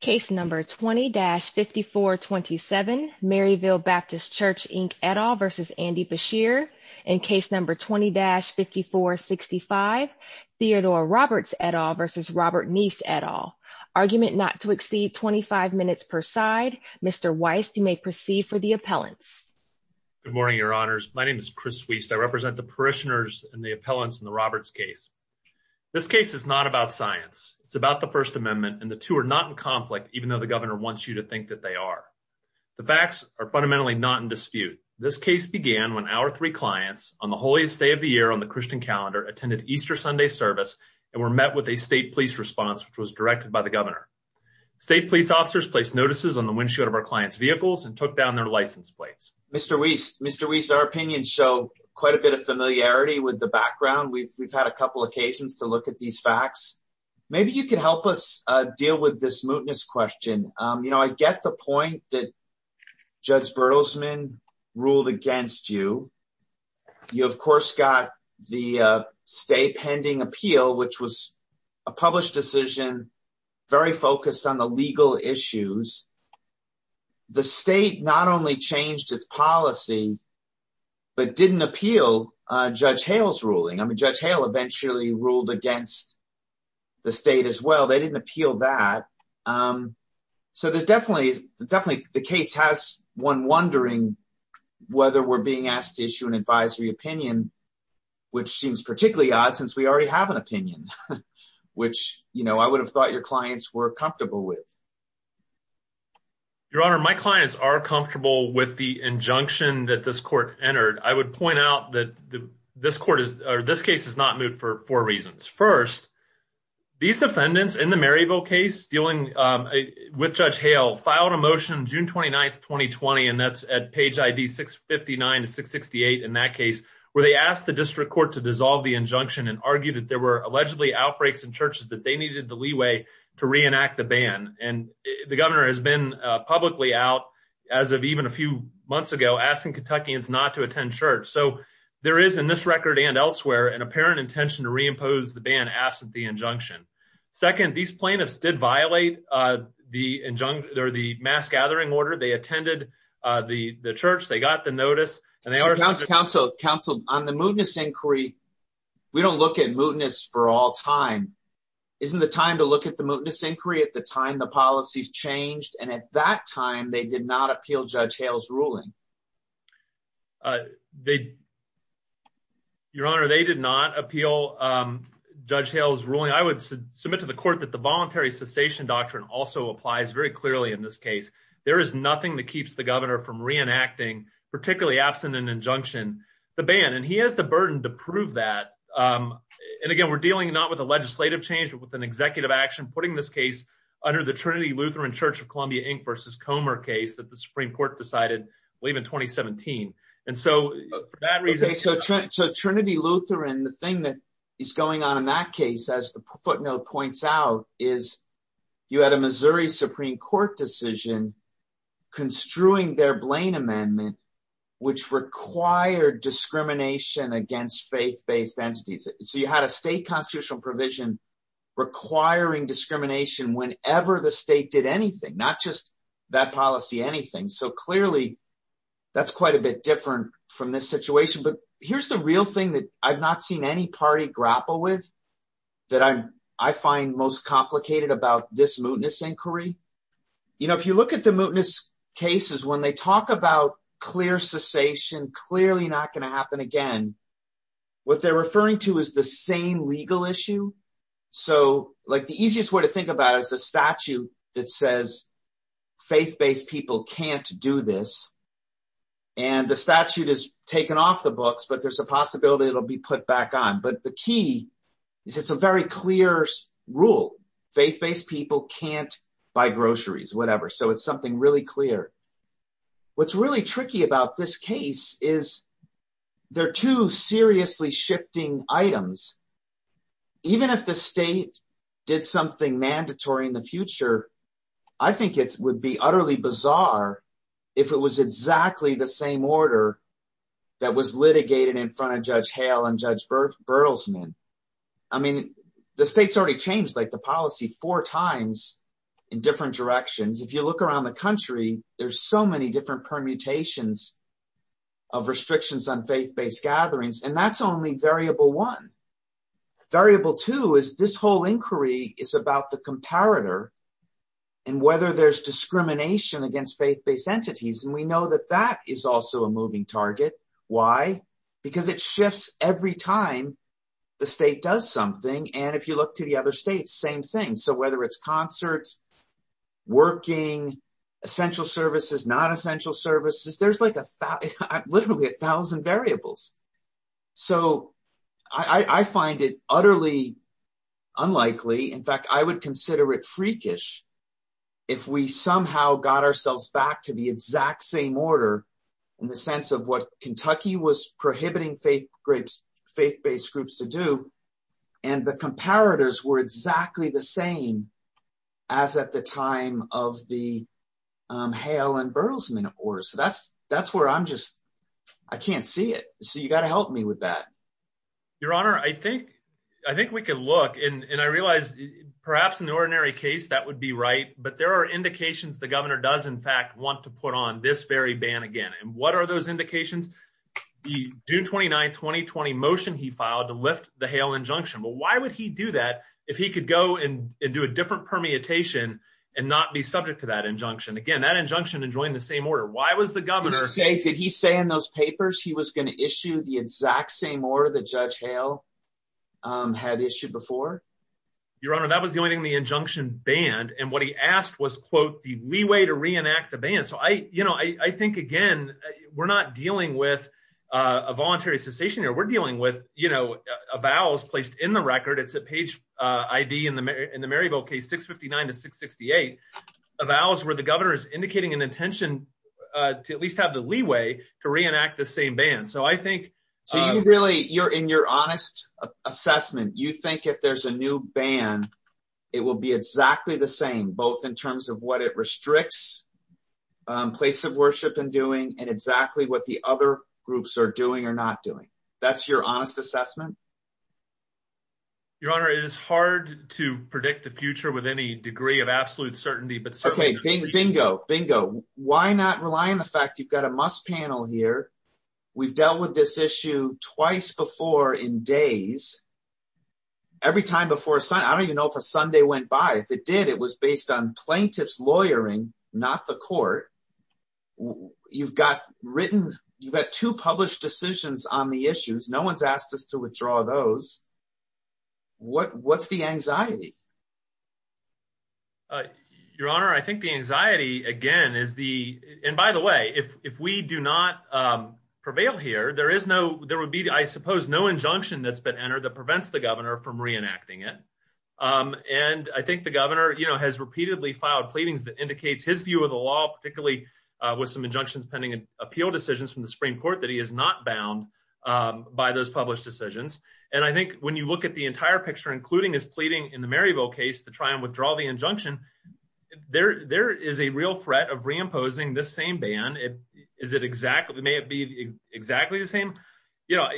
Case No. 20-5427 Maryville Baptist Church, Inc. et al. v. Andy Beshear Case No. 20-5465 Theodore Roberts et al. v. Robert Neace et al. Argument not to exceed 25 minutes per side. Mr. Weiss, you may proceed for the appellants. Good morning, Your Honors. My name is Chris Weiss. I represent the parishioners and the appellants in the Roberts case. This case is not about science. It's about the First Amendment, and the two are not in conflict, even though the governor wants you to think that they are. The facts are fundamentally not in dispute. This case began when our three clients, on the holiest day of the year on the Christian calendar, attended Easter Sunday service and were met with a state police response, which was directed by the governor. State police officers placed notices on the windshield of our clients' vehicles and took down their license plates. Mr. Weiss, Mr. Weiss, our opinions show quite a bit of familiarity with the background. We've had a couple occasions to look at these facts. Maybe you can help us deal with this mootness question. You know, I get the point that Judge Bertelsman ruled against you. You, of course, got the state pending appeal, which was a published decision very focused on the legal issues. The state not only changed its policy, but didn't appeal Judge Hale's ruling. I mean, Judge Hale eventually ruled against the state as well. They didn't appeal that. So definitely the case has one wondering whether we're being asked to issue an advisory opinion, which seems particularly odd since we already have an opinion, which, you know, I would have thought your clients were comfortable with. Your Honor, my clients are comfortable with the injunction that this court entered. I would point out that this case is not moot for four reasons. First, these defendants in the Maryville case dealing with Judge Hale filed a motion June 29, 2020, and that's at page ID 659 to 668 in that case, where they asked the district court to dissolve the injunction and argued that there were allegedly outbreaks in churches that they needed the leeway to reenact the ban. And the governor has been publicly out, as of even a few months ago, asking Kentuckians not to attend church. So there is, in this record and elsewhere, an apparent intention to reimpose the ban absent the injunction. Second, these plaintiffs did violate the injunction or the mass gathering order. They attended the church. They got the notice. Counsel, on the mootness inquiry, we don't look at mootness for all time. Isn't it time to look at the mootness inquiry at the time the policies changed and at that time they did not appeal Judge Hale's ruling? Your Honor, they did not appeal Judge Hale's ruling. I would submit to the court that the voluntary cessation doctrine also applies very clearly in this case. There is nothing that keeps the governor from reenacting, particularly absent an injunction, the ban. And he has the burden to prove that. And again, we're dealing not with a legislative change but with an executive action, putting this case under the Trinity Lutheran Church of Columbia, Inc. v. Comer case that the Supreme Court decided late in 2017. So Trinity Lutheran, the thing that is going on in that case, as the footnote points out, is you had a Missouri Supreme Court decision construing their Blaine Amendment, which required discrimination against faith-based entities. So you had a state constitutional provision requiring discrimination whenever the state did anything, not just bad policy, anything. So clearly, that's quite a bit different from this situation. But here's the real thing that I've not seen any party grapple with that I find most complicated about this mootness inquiry. If you look at the mootness cases, when they talk about clear cessation, clearly not going to happen again, what they're referring to is the same legal issue. So the easiest way to think about it is the statute that says faith-based people can't do this. And the statute is taken off the books, but there's a possibility it'll be put back on. But the key is it's a very clear rule. Faith-based people can't buy groceries, whatever. So it's something really clear. What's really tricky about this case is they're two seriously shifting items. Even if the state did something mandatory in the future, I think it would be utterly bizarre if it was exactly the same order that was litigated in front of Judge Hale and Judge Berlesman. I mean, the state's already changed the policy four times in different directions. If you look around the country, there's so many different permutations of restrictions on faith-based gatherings, and that's only variable one. Variable two is this whole inquiry is about the comparator and whether there's discrimination against faith-based entities. And we know that that is also a moving target. Why? Because it shifts every time the state does something. And if you look to the other states, same thing. So whether it's concerts, working, essential services, non-essential services, there's literally a thousand variables. So I find it utterly unlikely. In fact, I would consider it freakish if we somehow got ourselves back to the exact same order in the sense of what Kentucky was prohibiting faith-based groups to do. And the comparators were exactly the same as at the time of the Hale and Berlesman order. So that's where I'm just, I can't see it. So you got to help me with that. Your Honor, I think, I think we could look and I realized perhaps in the ordinary case, that would be right. But there are indications the governor does, in fact, want to put on this very ban again. And what are those indications? The June 29, 2020 motion he filed to lift the Hale injunction. But why would he do that if he could go and do a different permutation and not be subject to that injunction? Again, that injunction enjoying the same order. Did he say in those papers he was going to issue the exact same order that Judge Hale had issued before? Your Honor, that was joining the injunction ban. And what he asked was, quote, the leeway to reenact the ban. So I, you know, I think, again, we're not dealing with a voluntary cessation here. We're dealing with, you know, a vows placed in the record. It's a page ID in the Maryville case, 659 to 668. A vows where the governor is indicating an intention to at least have the leeway to reenact the same ban. So I think In your honest assessment, you think if there's a new ban, it will be exactly the same, both in terms of what it restricts place of worship in doing and exactly what the other groups are doing or not doing? That's your honest assessment? Your Honor, it is hard to predict the future with any degree of absolute certainty, but certainly Your Honor, I think the anxiety, again, is the, and by the way, if we do not prevail here, there is no, there would be, I suppose, no injunction that's been entered that prevents the governor from reenacting it. And I think the governor, you know, has repeatedly filed pleadings that indicates his view of the law, particularly with some injunctions pending an appeal decisions from the Supreme Court, that he is not bound by those published decisions. And I think when you look at the entire picture, including his pleading in the Maryville case to try and withdraw the injunction, there is a real threat of reimposing this same ban. Is it exactly, may it be exactly the same? Yeah,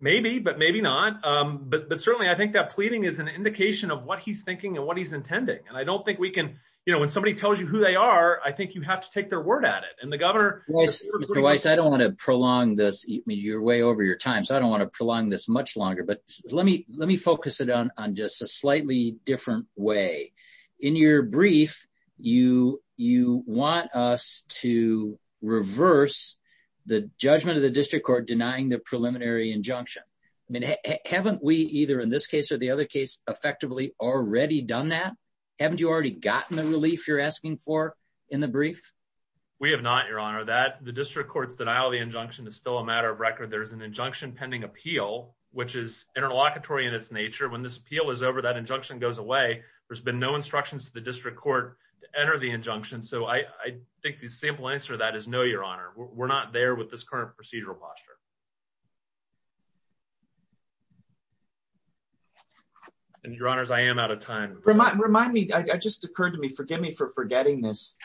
maybe, but maybe not. But certainly I think that pleading is an indication of what he's thinking and what he's intending. And I don't think we can, you know, when somebody tells you who they are, I think you have to take their word at it. And the governor Mr. Weiss, I don't want to prolong this, you're way over your time. So I don't want to prolong this much longer, but let me, let me focus it on, on just a slightly different way. In your brief, you, you want us to reverse the judgment of the district court denying the preliminary injunction. I mean, haven't we either in this case or the other case effectively already done that? Haven't you already gotten the relief you're asking for in the brief? We have not, Your Honor. That, the district court's denial of the injunction is still a matter of record. There's an injunction pending appeal, which is interlocutory in its nature. When this appeal is over, that injunction goes away. There's been no instructions to the district court to enter the injunction. So I think the simple answer to that is no, Your Honor. We're not there with this current procedural posture. And Your Honors, I am out of time. Remind me, it just occurred to me, forgive me for forgetting this.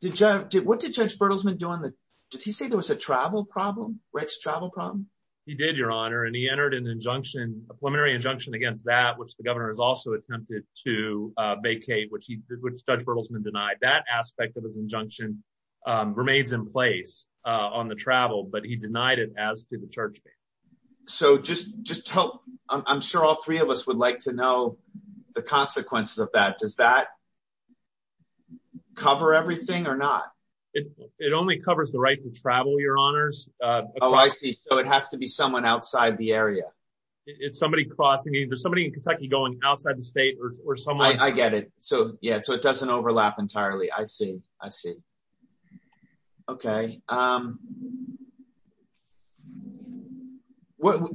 Did Judge, what did Judge Bertelsman do on the, did he say there was a travel problem? Wrex travel problem? He did, Your Honor, and he entered an injunction, a preliminary injunction against that, which the governor has also attempted to vacate, which he, which Judge Bertelsman denied. That aspect of his injunction remains in place on the travel, but he denied it as to the church case. So just, just tell, I'm sure all three of us would like to know the consequences of that. Does that cover everything or not? It only covers the right to travel, Your Honors. Oh, I see. So it has to be someone outside the area. It's somebody crossing, there's somebody in Kentucky going outside the state or somewhere. I get it. So, yeah, so it doesn't overlap entirely. I see. I see. Okay.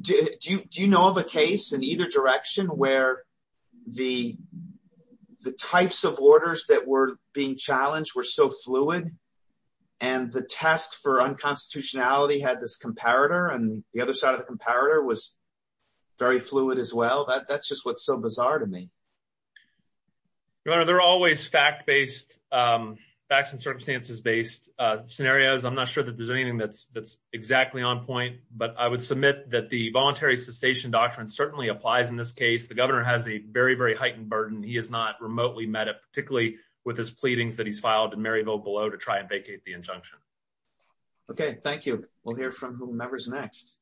Do you know of a case in either direction where the types of orders that were being challenged were so fluid and the test for unconstitutionality had this comparator and the other side of the comparator was very fluid as well? That's just what's so bizarre to me. Your Honor, there are always fact-based, facts and circumstances-based scenarios. I'm not sure that there's anything that's exactly on point, but I would submit that the voluntary cessation doctrine certainly applies in this case. The governor has a very, very heightened burden. He has not remotely met it, particularly with his pleadings that he's filed in Maryville below to try and vacate the injunction. Okay. Thank you. We'll hear from whomever's next.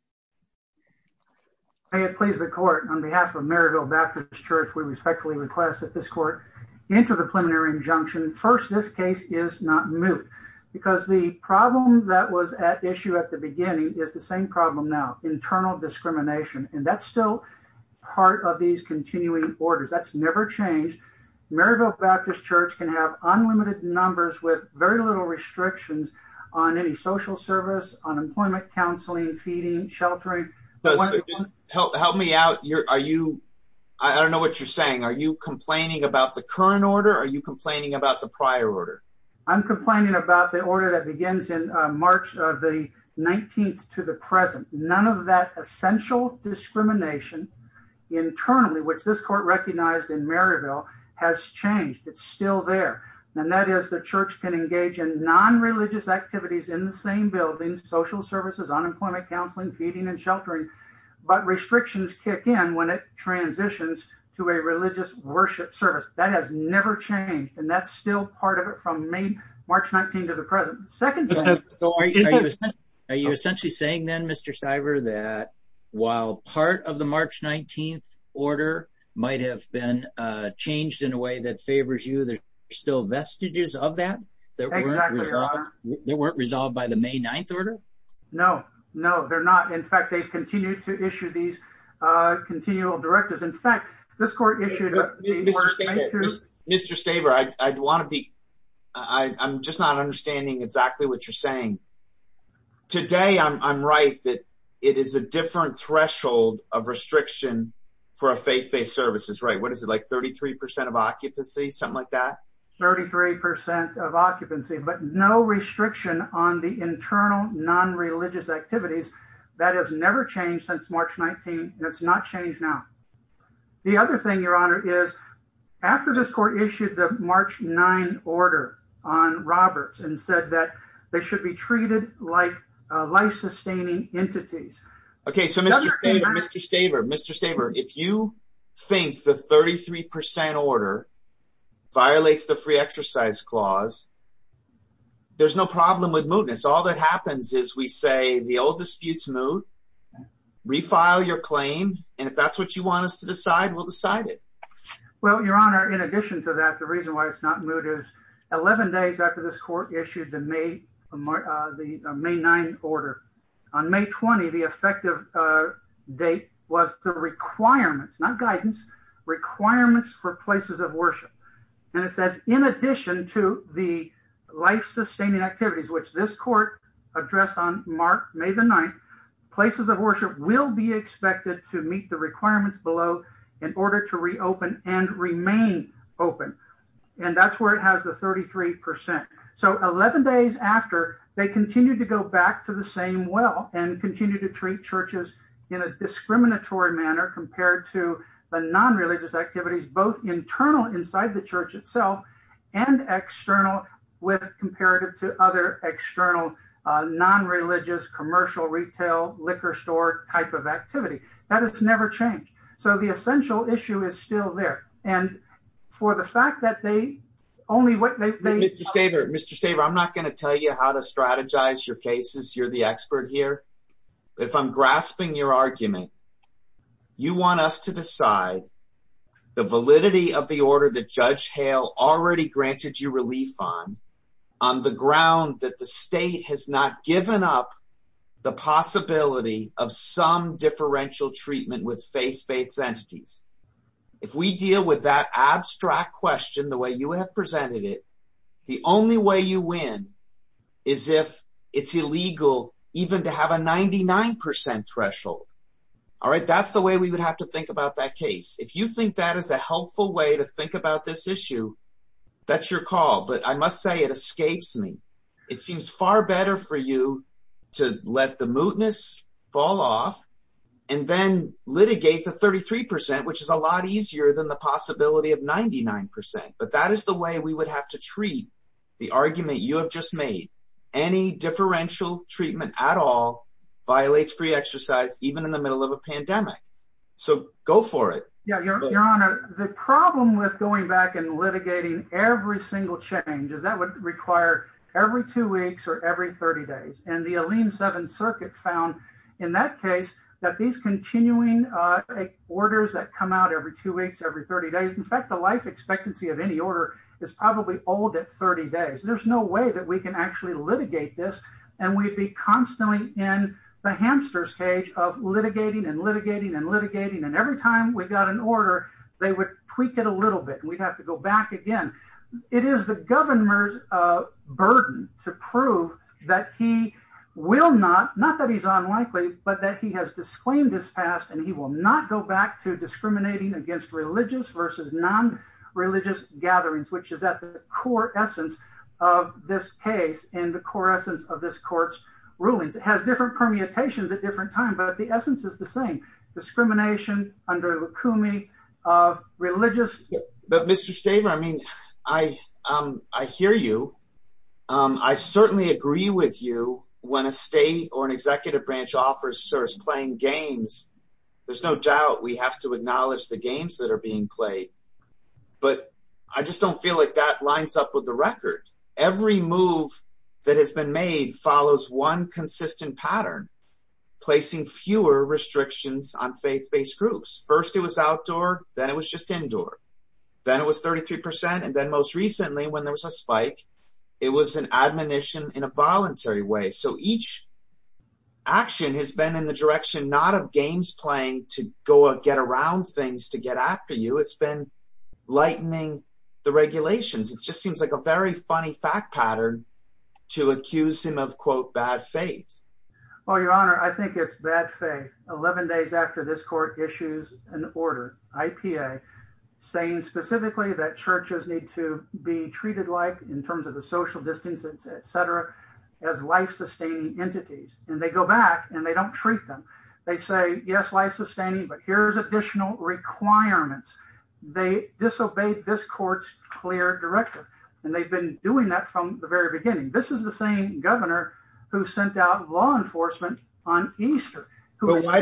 May it please the court, on behalf of Maryville Baptist Church, we respectfully request that this court enter the preliminary injunction. First, this case is not moved. Because the problem that was at issue at the beginning is the same problem now, internal discrimination. And that's still part of these continuing orders. That's never changed. Maryville Baptist Church can have unlimited numbers with very little restrictions on any social service, unemployment counseling, feeding, sheltering. Help me out. I don't know what you're saying. Are you complaining about the current order or are you complaining about the prior order? I'm complaining about the order that begins in March of the 19th to the present. None of that essential discrimination internally, which this court recognized in Maryville, has changed. It's still there. And that is the church can engage in non-religious activities in the same building, social services, unemployment counseling, feeding and sheltering, but restrictions kick in when it transitions to a religious worship service. That has never changed. And that's still part of it from March 19th to the present. Are you essentially saying then, Mr. Stiver, that while part of the March 19th order might have been changed in a way that favors you, there's still vestiges of that that weren't resolved by the May 9th order? No, no, they're not. In fact, they continue to issue these continual directives. In fact, this court issued... Mr. Stiver, I'd want to be... I'm just not understanding exactly what you're saying. Today, I'm right that it is a different threshold of restriction for a faith-based service. What is it, like 33% of occupancy, something like that? 33% of occupancy, but no restriction on the internal non-religious activities. That has never changed since March 19th, and it's not changed now. The other thing, Your Honor, is after this court issued the March 9 order on Roberts and said that they should be treated like life-sustaining entities... ...with the free exercise clause, there's no problem with mootness. All that happens is we say the old dispute's moot. Refile your claim, and if that's what you want us to decide, we'll decide it. Well, Your Honor, in addition to that, the reason why it's not moot is 11 days after this court issued the May 9 order, on May 20, the effective date was the requirements, not guidance, requirements for places of worship. And it says, in addition to the life-sustaining activities, which this court addressed on May 9, places of worship will be expected to meet the requirements below in order to reopen and remain open. And that's where it has the 33%. So 11 days after, they continue to go back to the same well and continue to treat churches in a discriminatory manner compared to the non-religious activities, both internal inside the church itself and external with comparative to other external non-religious commercial retail liquor store type of activity. That has never changed. So the essential issue is still there. And for the fact that they only... Mr. Staver, I'm not going to tell you how to strategize your cases. You're the expert here. But if I'm grasping your argument, you want us to decide the validity of the order that Judge Hale already granted you relief on, on the ground that the state has not given up the possibility of some differential treatment with faith-based entities. If we deal with that abstract question the way you have presented it, the only way you win is if it's illegal even to have a 99% threshold. All right, that's the way we would have to think about that case. If you think that is a helpful way to think about this issue, that's your call. But I must say it escapes me. It seems far better for you to let the mootness fall off and then litigate the 33%, which is a lot easier than the possibility of 99%. But that is the way we would have to treat the argument you have just made. Any differential treatment at all violates free exercise, even in the middle of a pandemic. So go for it. Yeah, Your Honor, the problem with going back and litigating every single change is that would require every two weeks or every 30 days. And the Alene 7th Circuit found in that case that these continuing orders that come out every two weeks, every 30 days, in fact, the life expectancy of any order is probably old at 30 days. There's no way that we can actually litigate this. And we'd be constantly in the hamster's cage of litigating and litigating and litigating. And every time we got an order, they would tweak it a little bit. We'd have to go back again. It is the governor's burden to prove that he will not, not that he's unlikely, but that he has disclaimed his past and he will not go back to discriminating against religious versus non-religious gatherings, which is at the core essence of this case and the core essence of this court's rulings. It has different permutations at different times, but the essence is the same. Discrimination under Lakoumi of religious... Every move that has been made follows one consistent pattern, placing fewer restrictions on faith-based groups. First it was outdoor, then it was just indoor. Then it was 33%. And then most recently when there was a spike, it was an admonition in a voluntary way. So each action has been in the direction not of games playing to go out, get around things to get after you. It's been lightening the regulations. It just seems like a very funny fact pattern to accuse him of, quote, bad faith. Well, Your Honor, I think it's bad faith. 11 days after this court issues an order, IPA, saying specifically that churches need to be treated like in terms of the social distancing, et cetera, as life-sustaining entities. And they go back and they don't treat them. They say, yes, life-sustaining, but here's additional requirements. They disobeyed this court's clear directive. And they've been doing that from the very beginning. This is the same governor who sent out law enforcement on Easter. Why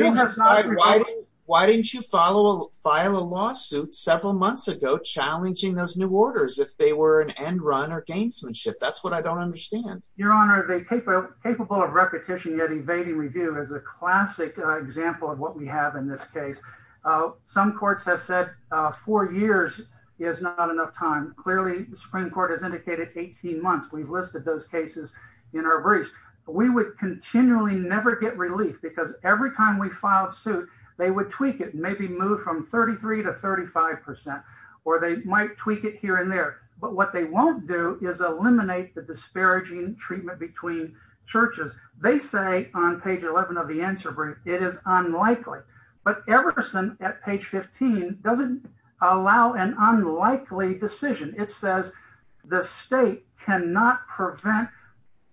didn't you file a lawsuit several months ago challenging those new orders if they were an end run or gamesmanship? That's what I don't understand. Your Honor, the capable of repetition yet evading review is a classic example of what we have in this case. Some courts have said four years is not enough time. Clearly, the Supreme Court has indicated 18 months. We've listed those cases in our briefs. We would continually never get relief because every time we filed suit, they would tweak it, maybe move from 33 to 35%, or they might tweak it here and there. But what they won't do is eliminate the disparaging treatment between churches. They say on page 11 of the answer brief, it is unlikely. But Everson at page 15 doesn't allow an unlikely decision. It says the state cannot prevent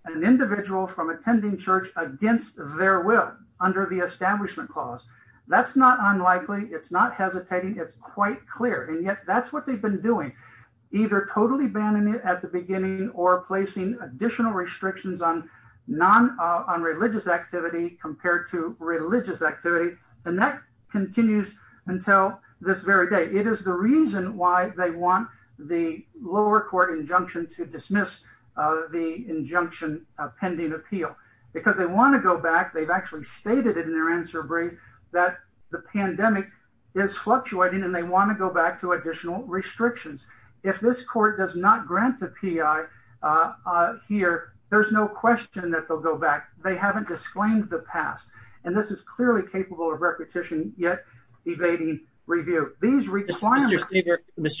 an individual from attending church against their will under the establishment clause. That's not unlikely. It's not hesitating. It's quite clear. And yet that's what they've been doing. Either totally banning it at the beginning or placing additional restrictions on religious activity compared to religious activity. And that continues until this very day. It is the reason why they want the lower court injunction to dismiss the injunction pending appeal. Because they want to go back. They've actually stated in their answer brief that the pandemic is fluctuating and they want to go back to additional restrictions. Mr.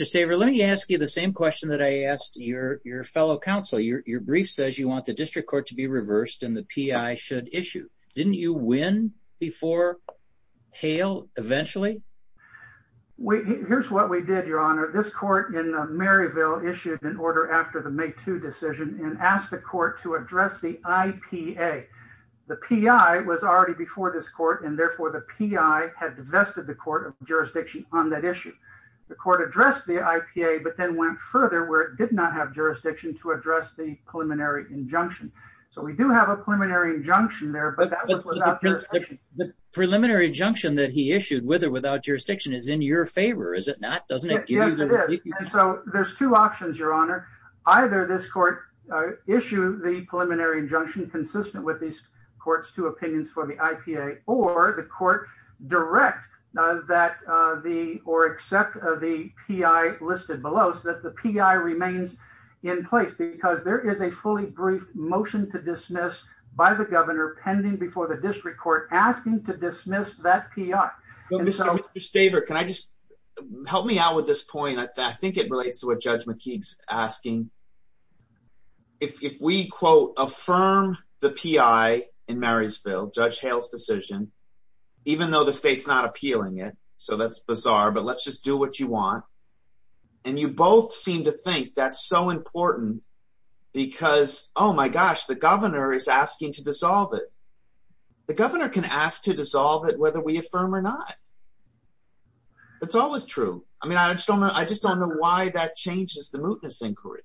Saver, let me ask you the same question that I asked your fellow counsel. Your brief says you want the district court to be reversed and the PI should issue. Didn't you win before Hale eventually? Here's what we did, Your Honor. This court in Maryville issued an order after the May 2 decision and asked the court to address the IPA. The PI was already before this court and therefore the PI had divested the court of jurisdiction on that issue. The court addressed the IPA but then went further where it did not have jurisdiction to address the preliminary injunction. So we do have a preliminary injunction there, but that was without jurisdiction. The preliminary injunction that he issued with or without jurisdiction is in your favor, is it not? Yes, it is. So there's two options, Your Honor. Either this court issue the preliminary injunction consistent with these courts' two opinions for the IPA or the court direct or accept the PI listed below so that the PI remains in place because there is a fully briefed motion to dismiss by the governor pending before the district court asking to dismiss that PI. Ms. Schaber, can I just, help me out with this point. I think it relates to what Judge McKee is asking. If we, quote, affirm the PI in Marysville, Judge Hale's decision, even though the state's not appealing it, so that's bizarre, but let's just do what you want, and you both seem to think that's so important because, oh my gosh, the governor is asking to dissolve it. The governor can ask to dissolve it whether we affirm or not. It's always true. I mean, I just don't know why that changes the mootness inquiry.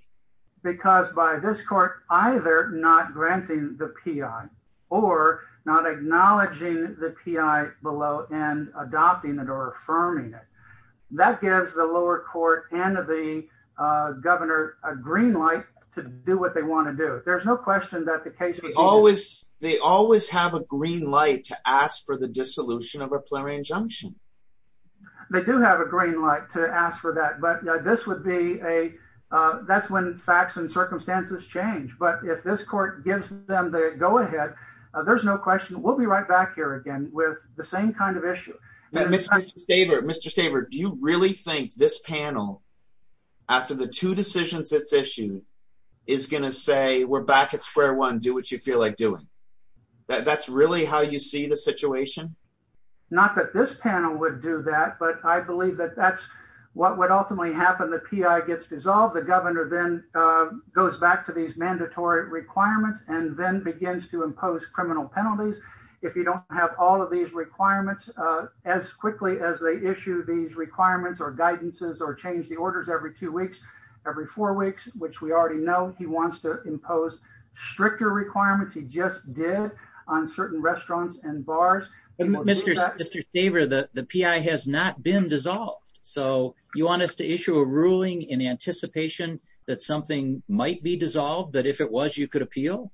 Because by this court either not granting the PI or not acknowledging the PI below and adopting it or affirming it, that gives the lower court and the governor a green light to do what they want to do. There's no question that the case would be— They always have a green light to ask for the dissolution of a preliminary injunction. They do have a green light to ask for that, but this would be a—that's when facts and circumstances change. But if this court gives them the go-ahead, there's no question we'll be right back here again with the same kind of issue. Mr. Schaber, do you really think this panel, after the two decisions this issue, is going to say, we're back at square one, do what you feel like doing? That's really how you see the situation? Not that this panel would do that, but I believe that that's what would ultimately happen. The PI gets dissolved. The governor then goes back to these mandatory requirements and then begins to impose criminal penalties. If you don't have all of these requirements, as quickly as they issue these requirements or guidances or change the orders every two weeks, every four weeks, which we already know, he wants to impose stricter requirements. He just did on certain restaurants and bars. Mr. Schaber, the PI has not been dissolved. So you want us to issue a ruling in anticipation that something might be dissolved, that if it was, you could appeal?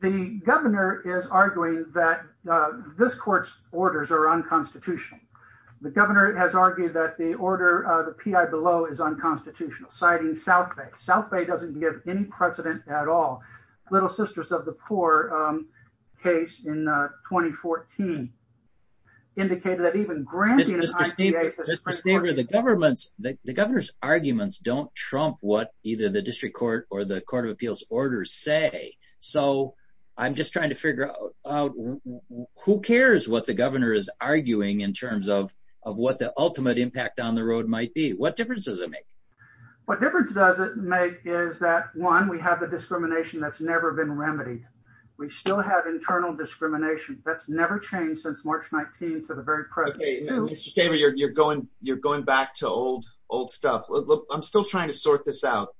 The governor is arguing that this court's orders are unconstitutional. The governor has argued that the PI below is unconstitutional, citing South Bay. South Bay doesn't give any precedent at all. Little Sisters of the Poor case in 2014 indicated that even granting an IPA… Mr. Schaber, the governor's arguments don't trump what either the District Court or the Court of Appeals orders say. So I'm just trying to figure out, who cares what the governor is arguing in terms of what the ultimate impact on the road might be? What difference does it make? What difference does it make is that, one, we have a discrimination that's never been remedied. We still have internal discrimination that's never changed since March 19th to the very present. Mr. Schaber, you're going back to old stuff. I'm still trying to sort this out.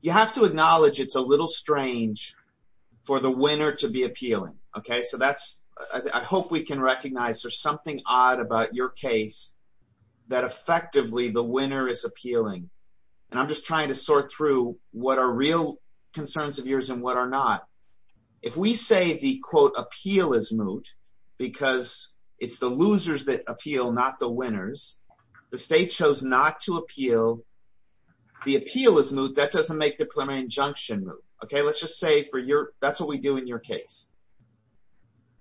You have to acknowledge it's a little strange for the winner to be appealing. I hope we can recognize there's something odd about your case that effectively the winner is appealing. And I'm just trying to sort through what are real concerns of yours and what are not. If we say the, quote, appeal is moot because it's the losers that appeal, not the winners, the state chose not to appeal, the appeal is moot, that doesn't make the preliminary injunction moot. Okay, let's just say that's what we do in your case.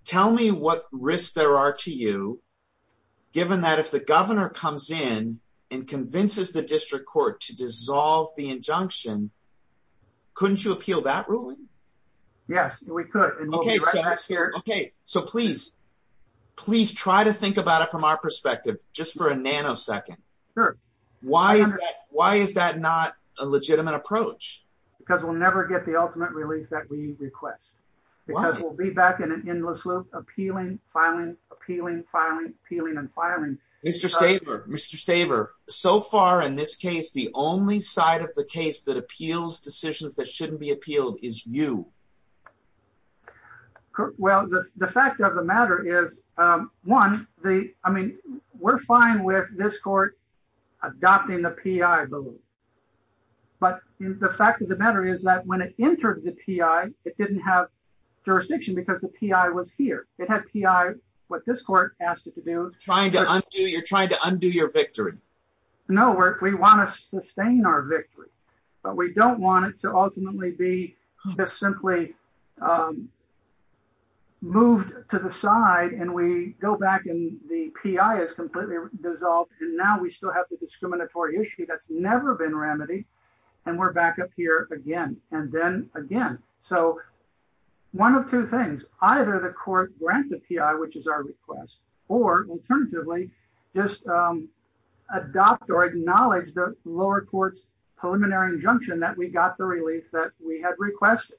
Tell me what risks there are to you, given that if the governor comes in and convinces the District Court to dissolve the injunction, couldn't you appeal that ruling? Yes, we could. Okay, so please, please try to think about it from our perspective, just for a nanosecond. Why is that not a legitimate approach? Because we'll never get the ultimate release that we request. Because we'll be back in an endless loop, appealing, filing, appealing, filing, appealing and filing. Mr. Schaber, Mr. Schaber, so far in this case, the only side of the case that appeals decisions that shouldn't be appealed is you. Well, the fact of the matter is, one, I mean, we're fine with this court adopting a P.I., I believe. But the fact of the matter is that when it entered the P.I., it didn't have jurisdiction because the P.I. was here. It had P.I. what this court asked it to do. You're trying to undo your victory. No, we want to sustain our victory, but we don't want it to ultimately be just simply moved to the side and we go back and the P.I. is completely dissolved. And now we still have the discriminatory issue that's never been remedied. And we're back up here again and then again. So one of two things, either the court grant the P.I., which is our request, or alternatively, just adopt or acknowledge the lower court's preliminary injunction that we got the release that we had requested.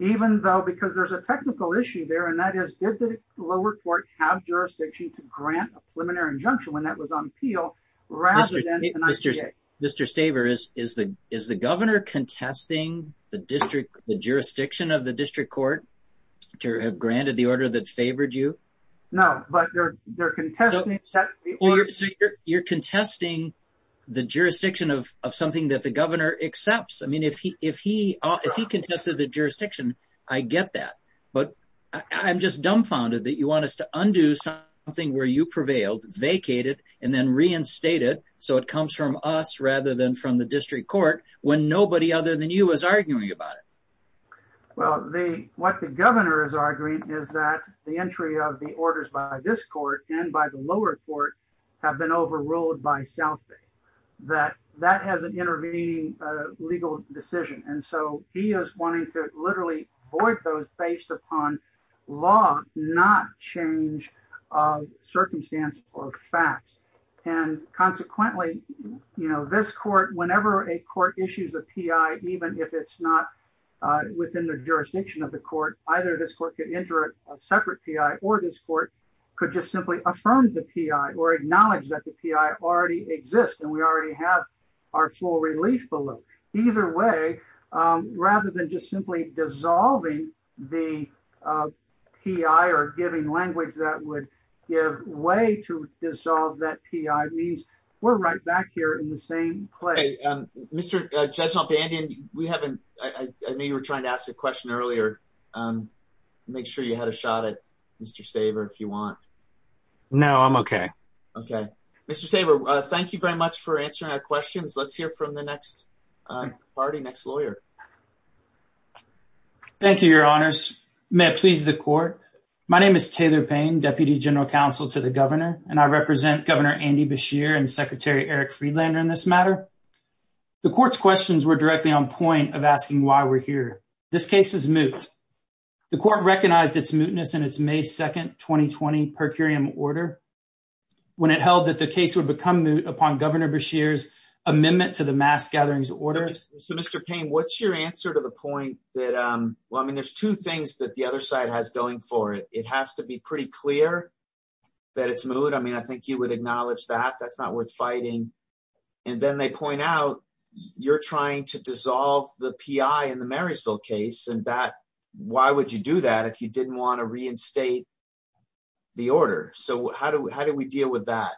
Even though, because there's a technical issue there, and that is, did the lower court have jurisdiction to grant a preliminary injunction when that was on appeal, rather than an I.C.A.? Mr. Staver, is the governor contesting the jurisdiction of the district court to have granted the order that favored you? No, but they're contesting. You're contesting the jurisdiction of something that the governor accepts. I mean, if he contests the jurisdiction, I get that. But I'm just dumbfounded that you want us to undo something where you prevailed, vacate it, and then reinstate it so it comes from us rather than from the district court when nobody other than you is arguing about it. Well, what the governor is arguing is that the entry of the orders by this court and by the lower court have been overruled by South Bay. That has an intervening legal decision. And so he is wanting to literally void those based upon law, not change circumstance or facts. And consequently, you know, this court, whenever a court issues a P.I., even if it's not within the jurisdiction of the court, either this court could injure a separate P.I. or this court could just simply affirm the P.I. or acknowledge that the P.I. already exists and we already have our full relief below. Either way, rather than just simply dissolving the P.I. or giving language that would give way to dissolve that P.I., we're right back here in the same place. Mr. Judge Montbandian, I know you were trying to ask a question earlier. Make sure you had a shot at Mr. Saver if you want. No, I'm okay. Okay. Mr. Saver, thank you very much for answering our questions. Let's hear from the next party, next lawyer. Thank you, Your Honors. May it please the court. My name is Taylor Payne, Deputy General Counsel to the governor, and I represent Governor Andy Beshear and Secretary Eric Friedlander in this matter. The court's questions were directly on point of asking why we're here. This case is moot. The court recognized its mootness in its May 2, 2020, per curiam order when it held that the case would become moot upon Governor Beshear's amendment to the mass gatherings order. So, Mr. Payne, what's your answer to the point that – well, I mean, there's two things that the other side has going for it. It has to be pretty clear that it's moot. I mean, I think you would acknowledge that. That's not worth fighting. And then they point out you're trying to dissolve the P.I. in the Marysville case, and that – why would you do that if you didn't want to reinstate the order? So how do we deal with that?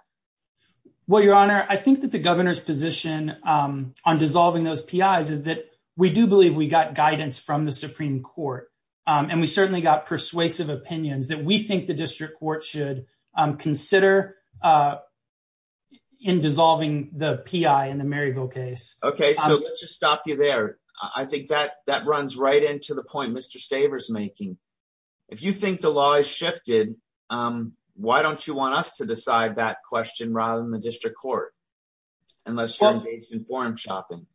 Well, Your Honor, I think that the governor's position on dissolving those P.I.s is that we do believe we got guidance from the Supreme Court, and we certainly got persuasive opinions that we think the district court should consider in dissolving the P.I. in the Marysville case. Okay, so let's just stop you there. I think that runs right into the point Mr. Stavers is making. If you think the law has shifted, why don't you want us to decide that question rather than the district court, unless you're engaged in quorum shopping?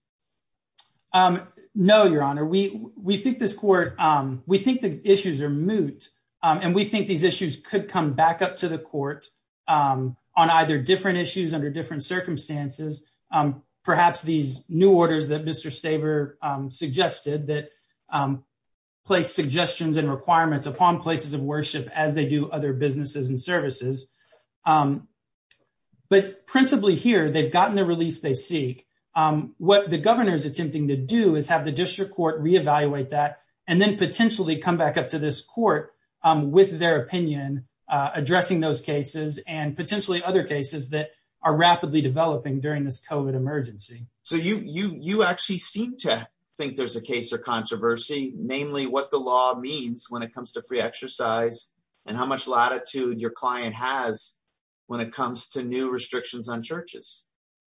No, Your Honor. We think this court – we think the issues are moot, and we think these issues could come back up to the court on either different issues under different circumstances, perhaps these new orders that Mr. Stavers suggested that place suggestions and requirements upon places of worship as they do other businesses and services. But principally here, they've gotten the release they seek. What the governor is attempting to do is have the district court reevaluate that and then potentially come back up to this court with their opinion addressing those cases and potentially other cases that are rapidly developing during this COVID emergency. So you actually seem to think there's a case or controversy, mainly what the law means when it comes to free exercise and how much latitude your client has when it comes to new restrictions on churches.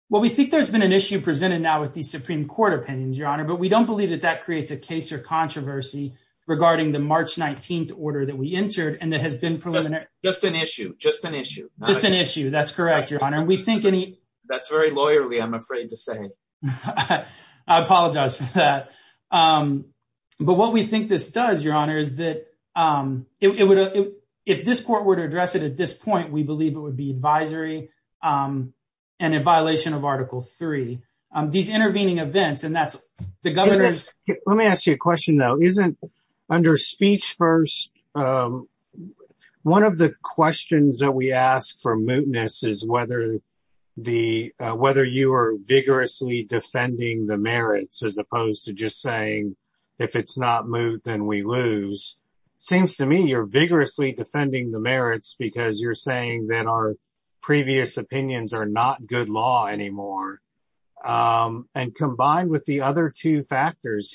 Well, we think there's been an issue presented now with the Supreme Court opinions, Your Honor, but we don't believe that that creates a case or controversy regarding the March 19th order that we entered and that has been – Just an issue. Just an issue. Just an issue. That's correct, Your Honor. That's very lawyerly, I'm afraid to say. I apologize for that. But what we think this does, Your Honor, is that if this court were to address it at this point, we believe it would be advisory and in violation of Article 3. These intervening events and that's – Let me ask you a question, though. Under speech first, one of the questions that we ask for mootness is whether you are vigorously defending the merits as opposed to just saying if it's not moot, then we lose. It seems to me you're vigorously defending the merits because you're saying that our previous opinions are not good law anymore. And combined with the other two factors,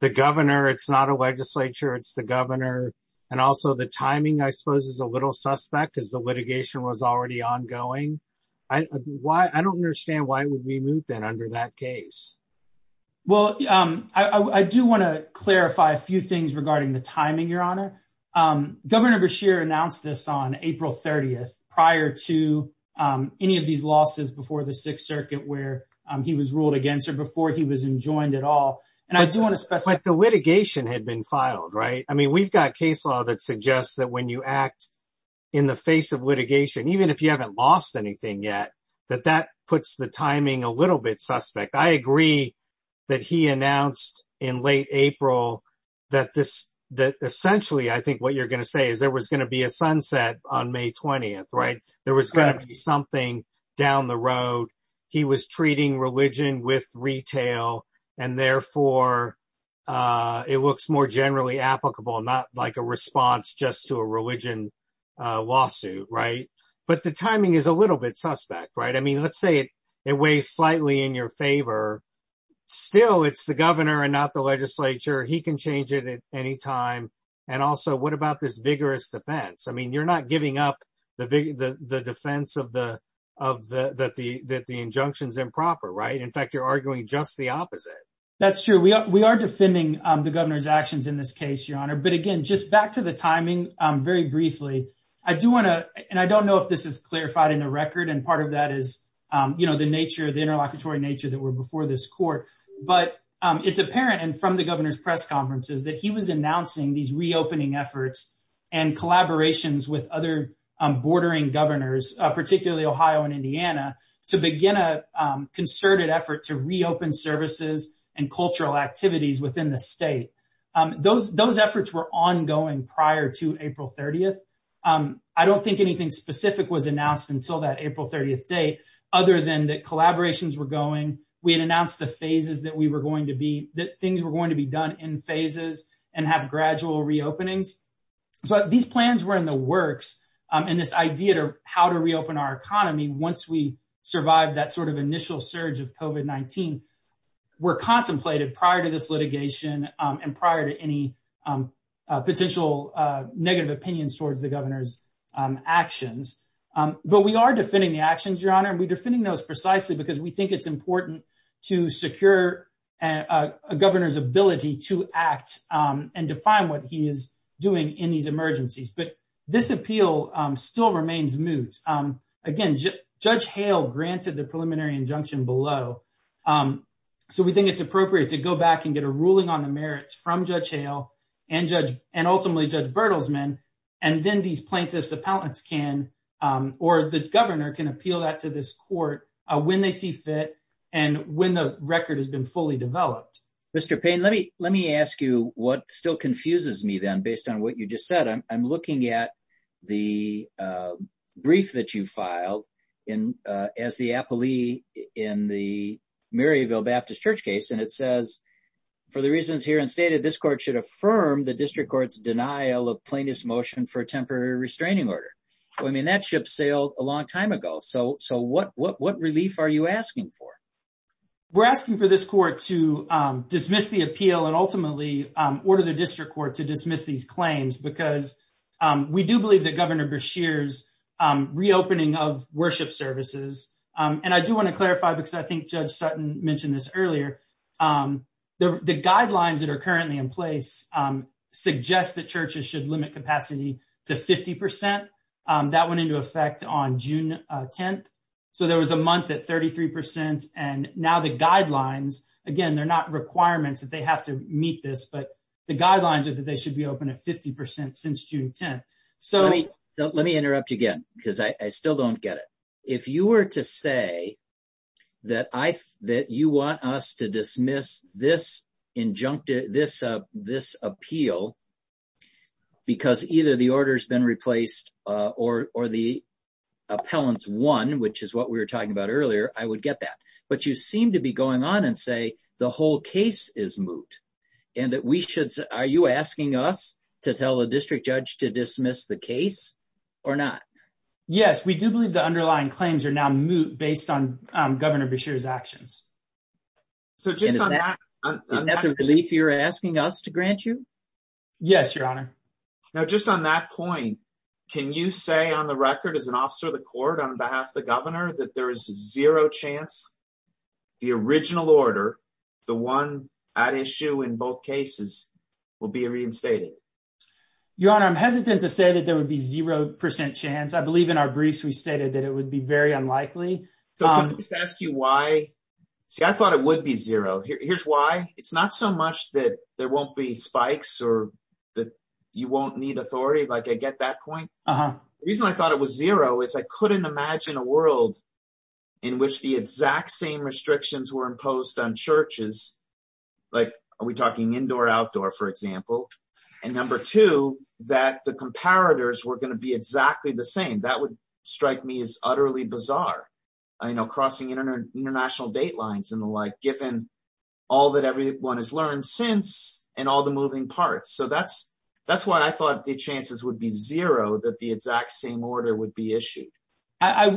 the governor, it's not a legislature, it's the governor, and also the timing, I suppose, is a little suspect as the litigation was already ongoing. I don't understand why we would be moot then under that case. Well, I do want to clarify a few things regarding the timing, Your Honor. Governor Beshear announced this on April 30th prior to any of these losses before the Sixth Circuit where he was ruled against or before he was enjoined at all. And I do want to – But the litigation had been filed, right? I mean, we've got case law that suggests that when you act in the face of litigation, even if you haven't lost anything yet, that that puts the timing a little bit suspect. I agree that he announced in late April that essentially I think what you're going to say is there was going to be a sunset on May 20th, right? There was going to be something down the road. He was treating religion with retail, and therefore it looks more generally applicable, not like a response just to a religion lawsuit, right? But the timing is a little bit suspect, right? I mean, let's say it weighs slightly in your favor. Still, it's the governor and not the legislature. He can change it at any time. And also, what about this vigorous defense? I mean, you're not giving up the defense that the injunction's improper, right? In fact, you're arguing just the opposite. That's true. We are defending the governor's actions in this case, Your Honor. But again, just back to the timing very briefly, I do want to – and I don't know if this is clarified in the record, and part of that is the nature, the interlocutory nature that were before this court. But it's apparent from the governor's press conferences that he was announcing these reopening efforts and collaborations with other bordering governors, particularly Ohio and Indiana, to begin a concerted effort to reopen services and cultural activities within the state. Those efforts were ongoing prior to April 30th. I don't think anything specific was announced until that April 30th date, other than that collaborations were going. We had announced the phases that we were going to be – that things were going to be done in phases and have gradual reopenings. But these plans were in the works, and this idea of how to reopen our economy once we survive that sort of initial surge of COVID-19 were contemplated prior to this litigation and prior to any potential negative opinions towards the governor's actions. But we are defending the actions, Your Honor, and we're defending those precisely because we think it's important to secure a governor's ability to act and define what he is doing in these emergencies. But this appeal still remains moot. Again, Judge Hale granted the preliminary injunction below, so we think it's appropriate to go back and get a ruling on the merits from Judge Hale and ultimately Judge Bertelsman, and then these plaintiffs' appellants can – or the governor can appeal that to this court when they see fit and when the record has been fully developed. Mr. Payne, let me ask you what still confuses me, then, based on what you just said. I'm looking at the brief that you filed as the appellee in the Maryville Baptist Church case, and it says, for the reasons here and stated, this court should affirm the district court's denial of plaintiff's motion for a temporary restraining order. I mean, that ship sailed a long time ago, so what relief are you asking for? We're asking for this court to dismiss the appeal and ultimately order the district court to dismiss these claims because we do believe that Governor Beshear's reopening of worship services – and I do want to clarify because I think Judge Sutton mentioned this earlier – the guidelines that are currently in place suggest that churches should limit capacity to 50%. That went into effect on June 10th, so there was a month at 33%, and now the guidelines – again, they're not requirements that they have to meet this, but the guidelines are that they should be open at 50% since June 10th. Let me interrupt you again because I still don't get it. If you were to say that you want us to dismiss this appeal because either the order's been replaced or the appellant's won, which is what we were talking about earlier, I would get that. But you seem to be going on and say the whole case is moot and that we should – are you asking us to tell the district judge to dismiss the case or not? Yes, we do believe the underlying claims are now moot based on Governor Beshear's actions. Is that the relief you're asking us to grant you? Yes, Your Honor. Now, just on that point, can you say on the record as an officer of the court on behalf of the governor that there is zero chance the original order, the one at issue in both cases, will be reinstated? Your Honor, I'm hesitant to say that there would be 0% chance. I believe in our briefs we stated that it would be very unlikely. Can I just ask you why? See, I thought it would be zero. Here's why. It's not so much that there won't be spikes or that you won't need authority, like I get that point. The reason I thought it was zero is I couldn't imagine a world in which the exact same restrictions were imposed on churches, like are we talking indoor or outdoor, for example, and number two, that the comparators were going to be exactly the same. That would strike me as utterly bizarre, you know, crossing international date lines and the like, given all that everyone has learned since and all the moving parts. So that's why I thought the chances would be zero that the exact same order would be issued.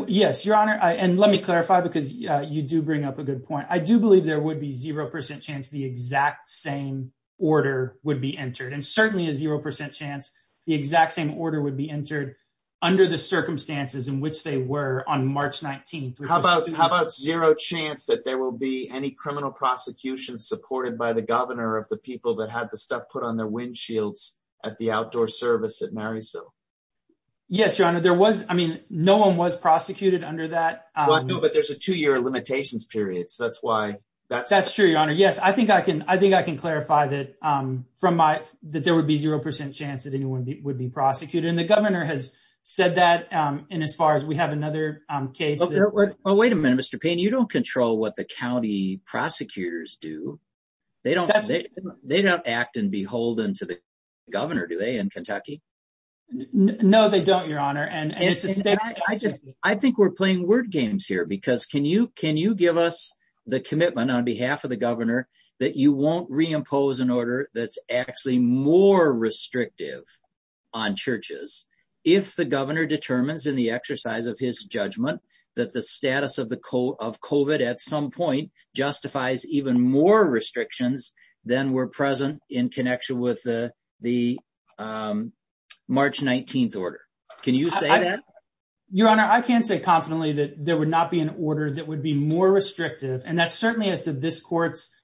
Yes, Your Honor, and let me clarify because you do bring up a good point. I do believe there would be 0% chance the exact same order would be entered, and certainly a 0% chance the exact same order would be entered under the circumstances in which they were on March 19. How about zero chance that there will be any criminal prosecution supported by the governor of the people that had the stuff put on their windshields at the outdoor service at Marysville? Yes, Your Honor, there was, I mean, no one was prosecuted under that. No, but there's a two-year limitations period, so that's why. That's true, Your Honor. Yes, I think I can clarify that there would be 0% chance that anyone would be prosecuted, and the governor has said that, and as far as we have another case. But wait a minute, Mr. Payne, you don't control what the county prosecutors do. They don't act and beholden to the governor, do they, in Kentucky? No, they don't, Your Honor. I think we're playing word games here, because can you give us the commitment on behalf of the governor that you won't reimpose an order that's actually more restrictive on churches if the governor determines in the exercise of his judgment that the status of COVID at some point justifies even more restrictions than were present in connection with the March 19th order? Can you say that? Your Honor, I can say confidently that there would not be an order that would be more restrictive, and that's certainly up to this court's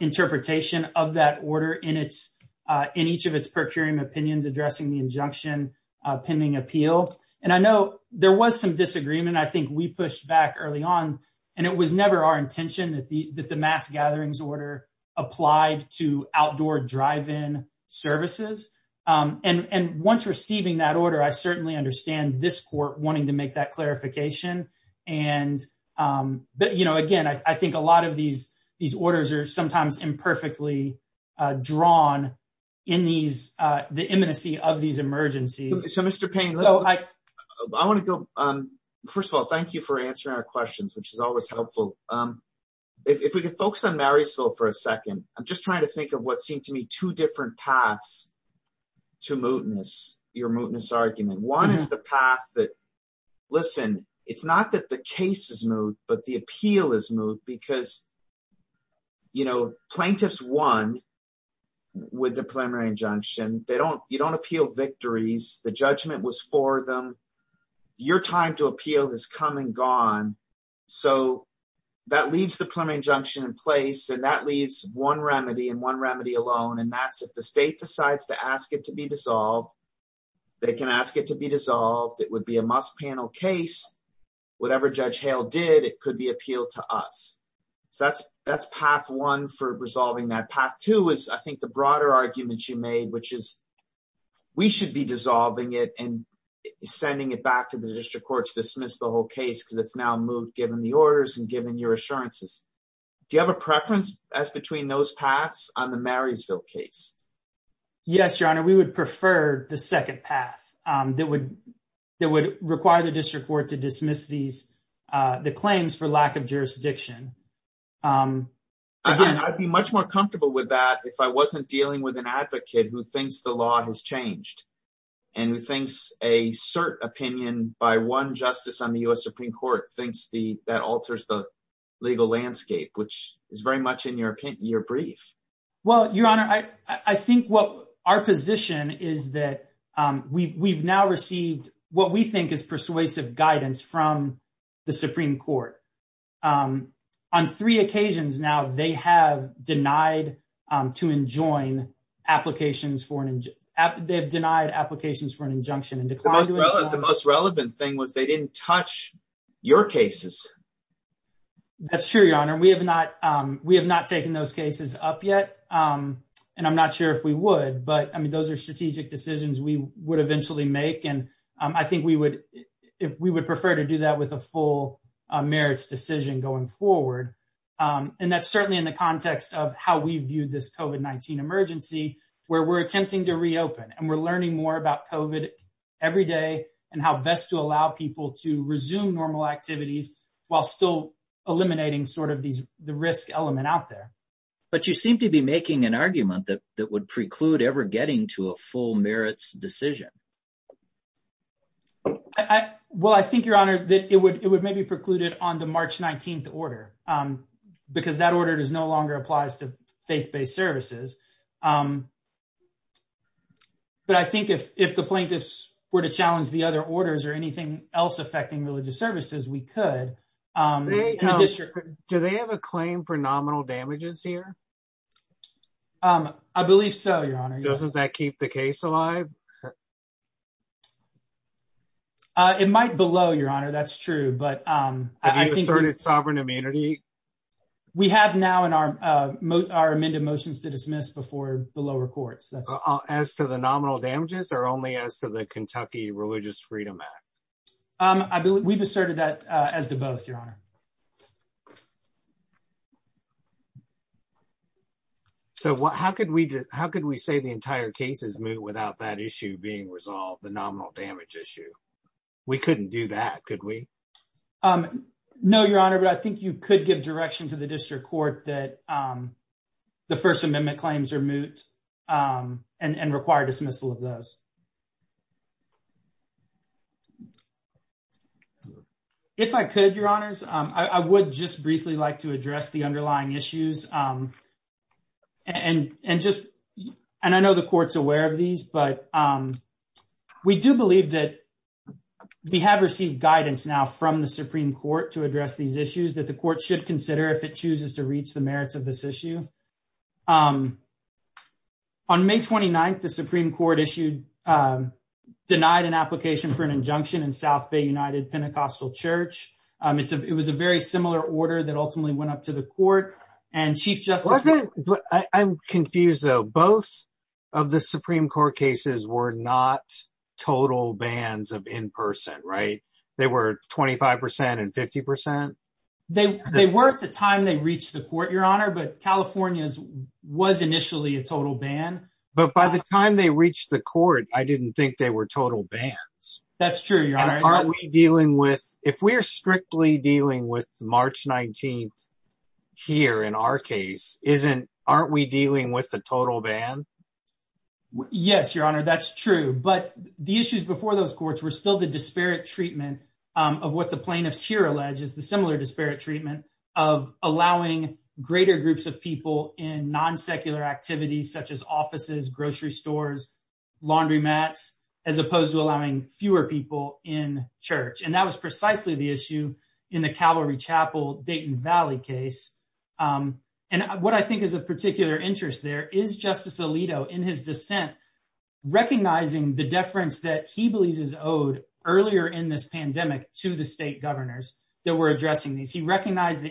interpretation of that order in each of its procuring opinions addressing the injunction pending appeal. And I know there was some disagreement. I think we pushed back early on, and it was never our intention that the mass gatherings order applied to outdoor drive-in services. And once receiving that order, I certainly understand this court wanting to make that clarification. But, you know, again, I think a lot of these orders are sometimes imperfectly drawn in the imminency of these emergencies. So, Mr. Payne, I want to go – first of all, thank you for answering our questions, which is always helpful. If we could focus on Marysville for a second, I'm just trying to think of what seem to me two different paths to mootness, your mootness argument. One is the path that – listen, it's not that the case is moot, but the appeal is moot because, you know, plaintiffs won with the preliminary injunction. You don't appeal victories. The judgment was for them. Your time to appeal has come and gone. So that leaves the preliminary injunction in place, and that leaves one remedy and one remedy alone, and that's if the state decides to ask it to be dissolved, they can ask it to be dissolved. It would be a must-panel case. Whatever Judge Hale did, it could be appealed to us. So that's path one for resolving that. Path two is, I think, the broader argument you made, which is we should be dissolving it and sending it back to the district courts to dismiss the whole case because it's now moot given the orders and given your assurances. Do you have a preference as between those paths on the Marysville case? Yes, Your Honor, we would prefer the second path that would require the district court to dismiss the claims for lack of jurisdiction. Again, I'd be much more comfortable with that if I wasn't dealing with an advocate who thinks the law has changed and who thinks a cert opinion by one justice on the U.S. Supreme Court thinks that alters the legal landscape, which is very much in your brief. Well, Your Honor, I think our position is that we've now received what we think is persuasive guidance from the Supreme Court. On three occasions now, they have denied applications for an injunction. The most relevant thing was they didn't touch your cases. That's true, Your Honor. We have not taken those cases up yet, and I'm not sure if we would. But, I mean, those are strategic decisions we would eventually make, and I think we would prefer to do that with a full merits decision going forward. And that's certainly in the context of how we view this COVID-19 emergency, where we're attempting to reopen, and we're learning more about COVID every day and how best to allow people to resume normal activities while still eliminating sort of the risk element out there. But you seem to be making an argument that would preclude ever getting to a full merits decision. Well, I think, Your Honor, that it would maybe preclude it on the March 19th order, because that order no longer applies to faith-based services. But I think if the plaintiffs were to challenge the other orders or anything else affecting religious services, we could. Do they have a claim for nominal damages here? I believe so, Your Honor. Doesn't that keep the case alive? It might below, Your Honor, that's true, but I think... Sovereign immunity? We have now in our amended motions to dismiss before the lower courts. As to the nominal damages, or only as to the Kentucky Religious Freedom Act? We've asserted that as to both, Your Honor. So how could we say the entire case is moot without that issue being resolved, the nominal damage issue? We couldn't do that, could we? No, Your Honor, but I think you could give direction to the district court that the First Amendment claims are moot and require dismissal of those. If I could, Your Honors, I would just briefly like to address the underlying issues. And I know the court's aware of these, but we do believe that we have received guidance now from the Supreme Court to address these issues that the court should consider if it chooses to reach the merits of this issue. On May 29th, the Supreme Court issued, denied an application for an injunction in South Bay United Pentecostal Church. It was a very similar order that ultimately went up to the court, and Chief Justice... I'm confused, though. Both of the Supreme Court cases were not total bans of in-person, right? They were 25% and 50%? They were at the time they reached the court, Your Honor, but California's was initially a total ban. But by the time they reached the court, I didn't think they were total bans. That's true, Your Honor. If we're strictly dealing with March 19th here in our case, aren't we dealing with the total bans? Yes, Your Honor, that's true. But the issues before those courts were still the disparate treatment of what the plaintiffs here allege is the similar disparate treatment of allowing greater groups of people in non-secular activities such as offices, grocery stores, laundromats, as opposed to allowing fewer people in church. And that was precisely the issue in the Calvary Chapel, Dayton Valley case. And what I think is of particular interest there is Justice Alito, in his dissent, recognizing the deference that he believes is owed earlier in this pandemic to the state governors that were addressing these. He recognized the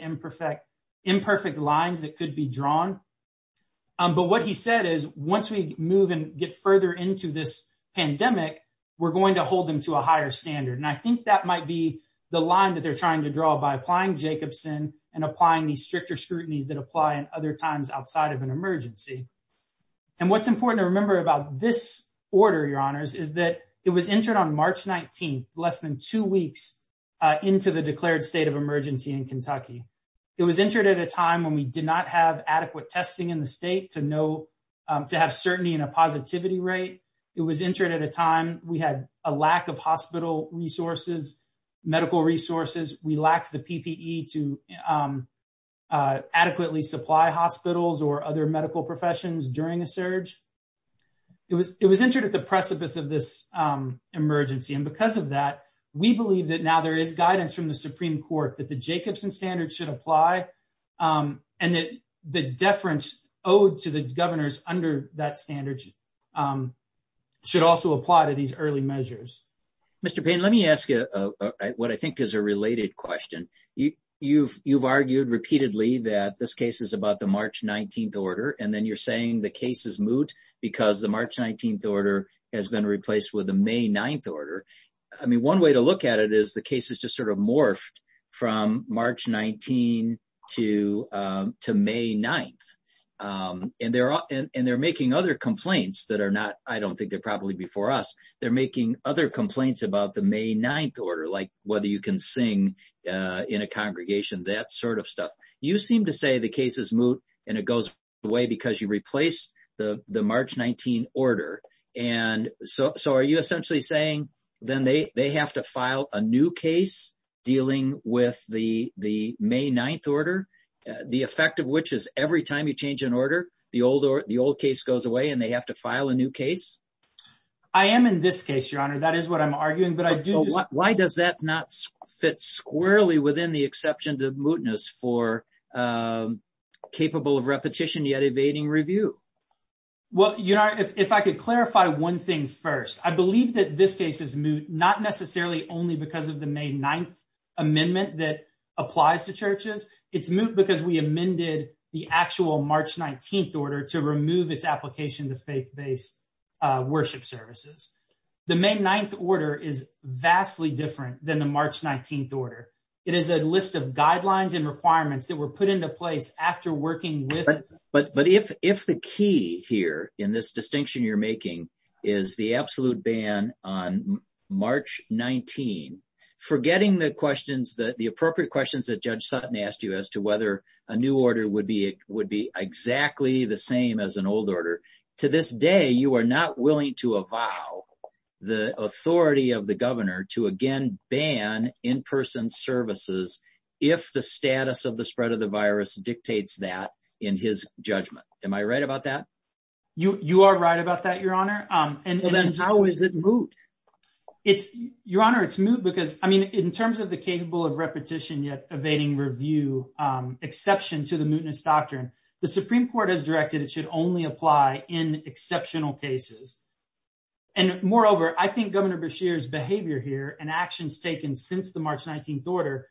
imperfect lines that could be drawn. But what he said is once we move and get further into this pandemic, we're going to hold them to a higher standard. And I think that might be the line that they're trying to draw by applying Jacobson and applying these stricter scrutinies that apply in other times outside of an emergency. And what's important to remember about this order, Your Honors, is that it was entered on March 19th, less than two weeks into the declared state of emergency in Kentucky. It was entered at a time when we did not have adequate testing in the state to have certainty in a positivity rate. It was entered at a time we had a lack of hospital resources, medical resources. We lacked the PPE to adequately supply hospitals or other medical professions during the surge. It was entered at the precipice of this emergency. And because of that, we believe that now there is guidance from the Supreme Court that the Jacobson standard should apply. And that the deference owed to the governors under that standard should also apply to these early measures. Mr. Payne, let me ask you what I think is a related question. You've argued repeatedly that this case is about the March 19th order, and then you're saying the case is moot because the March 19th order has been replaced with a May 9th order. I mean, one way to look at it is the case is just sort of morphed from March 19 to May 9th. And they're making other complaints that are not, I don't think they're probably before us, they're making other complaints about the May 9th order, like whether you can sing in a congregation, that sort of stuff. You seem to say the case is moot and it goes away because you replaced the March 19 order. And so are you essentially saying then they have to file a new case dealing with the May 9th order, the effect of which is every time you change an order, the old case goes away and they have to file a new case? I am in this case, Your Honor, that is what I'm arguing. Why does that not fit squarely within the exceptions of mootness for capable of repetition yet evading review? Well, Your Honor, if I could clarify one thing first, I believe that this case is moot not necessarily only because of the May 9th amendment that applies to churches. It's moot because we amended the actual March 19th order to remove its application to faith-based worship services. The May 9th order is vastly different than the March 19th order. It is a list of guidelines and requirements that were put into place after working with… But if the key here in this distinction you're making is the absolute ban on March 19, forgetting the appropriate questions that Judge Sutton asked you as to whether a new order would be exactly the same as an old order, to this day, you are not willing to avow the authority of the governor to again ban in-person services if the status of the spread of the virus dictates that in his judgment. Am I right about that? You are right about that, Your Honor. And then how is it moot? Your Honor, it's moot because, I mean, in terms of the capable of repetition yet evading review exception to the mootness doctrine, the Supreme Court has directed it should only apply in exceptional cases. And moreover, I think Governor Beshear's behavior here and actions taken since the March 19th order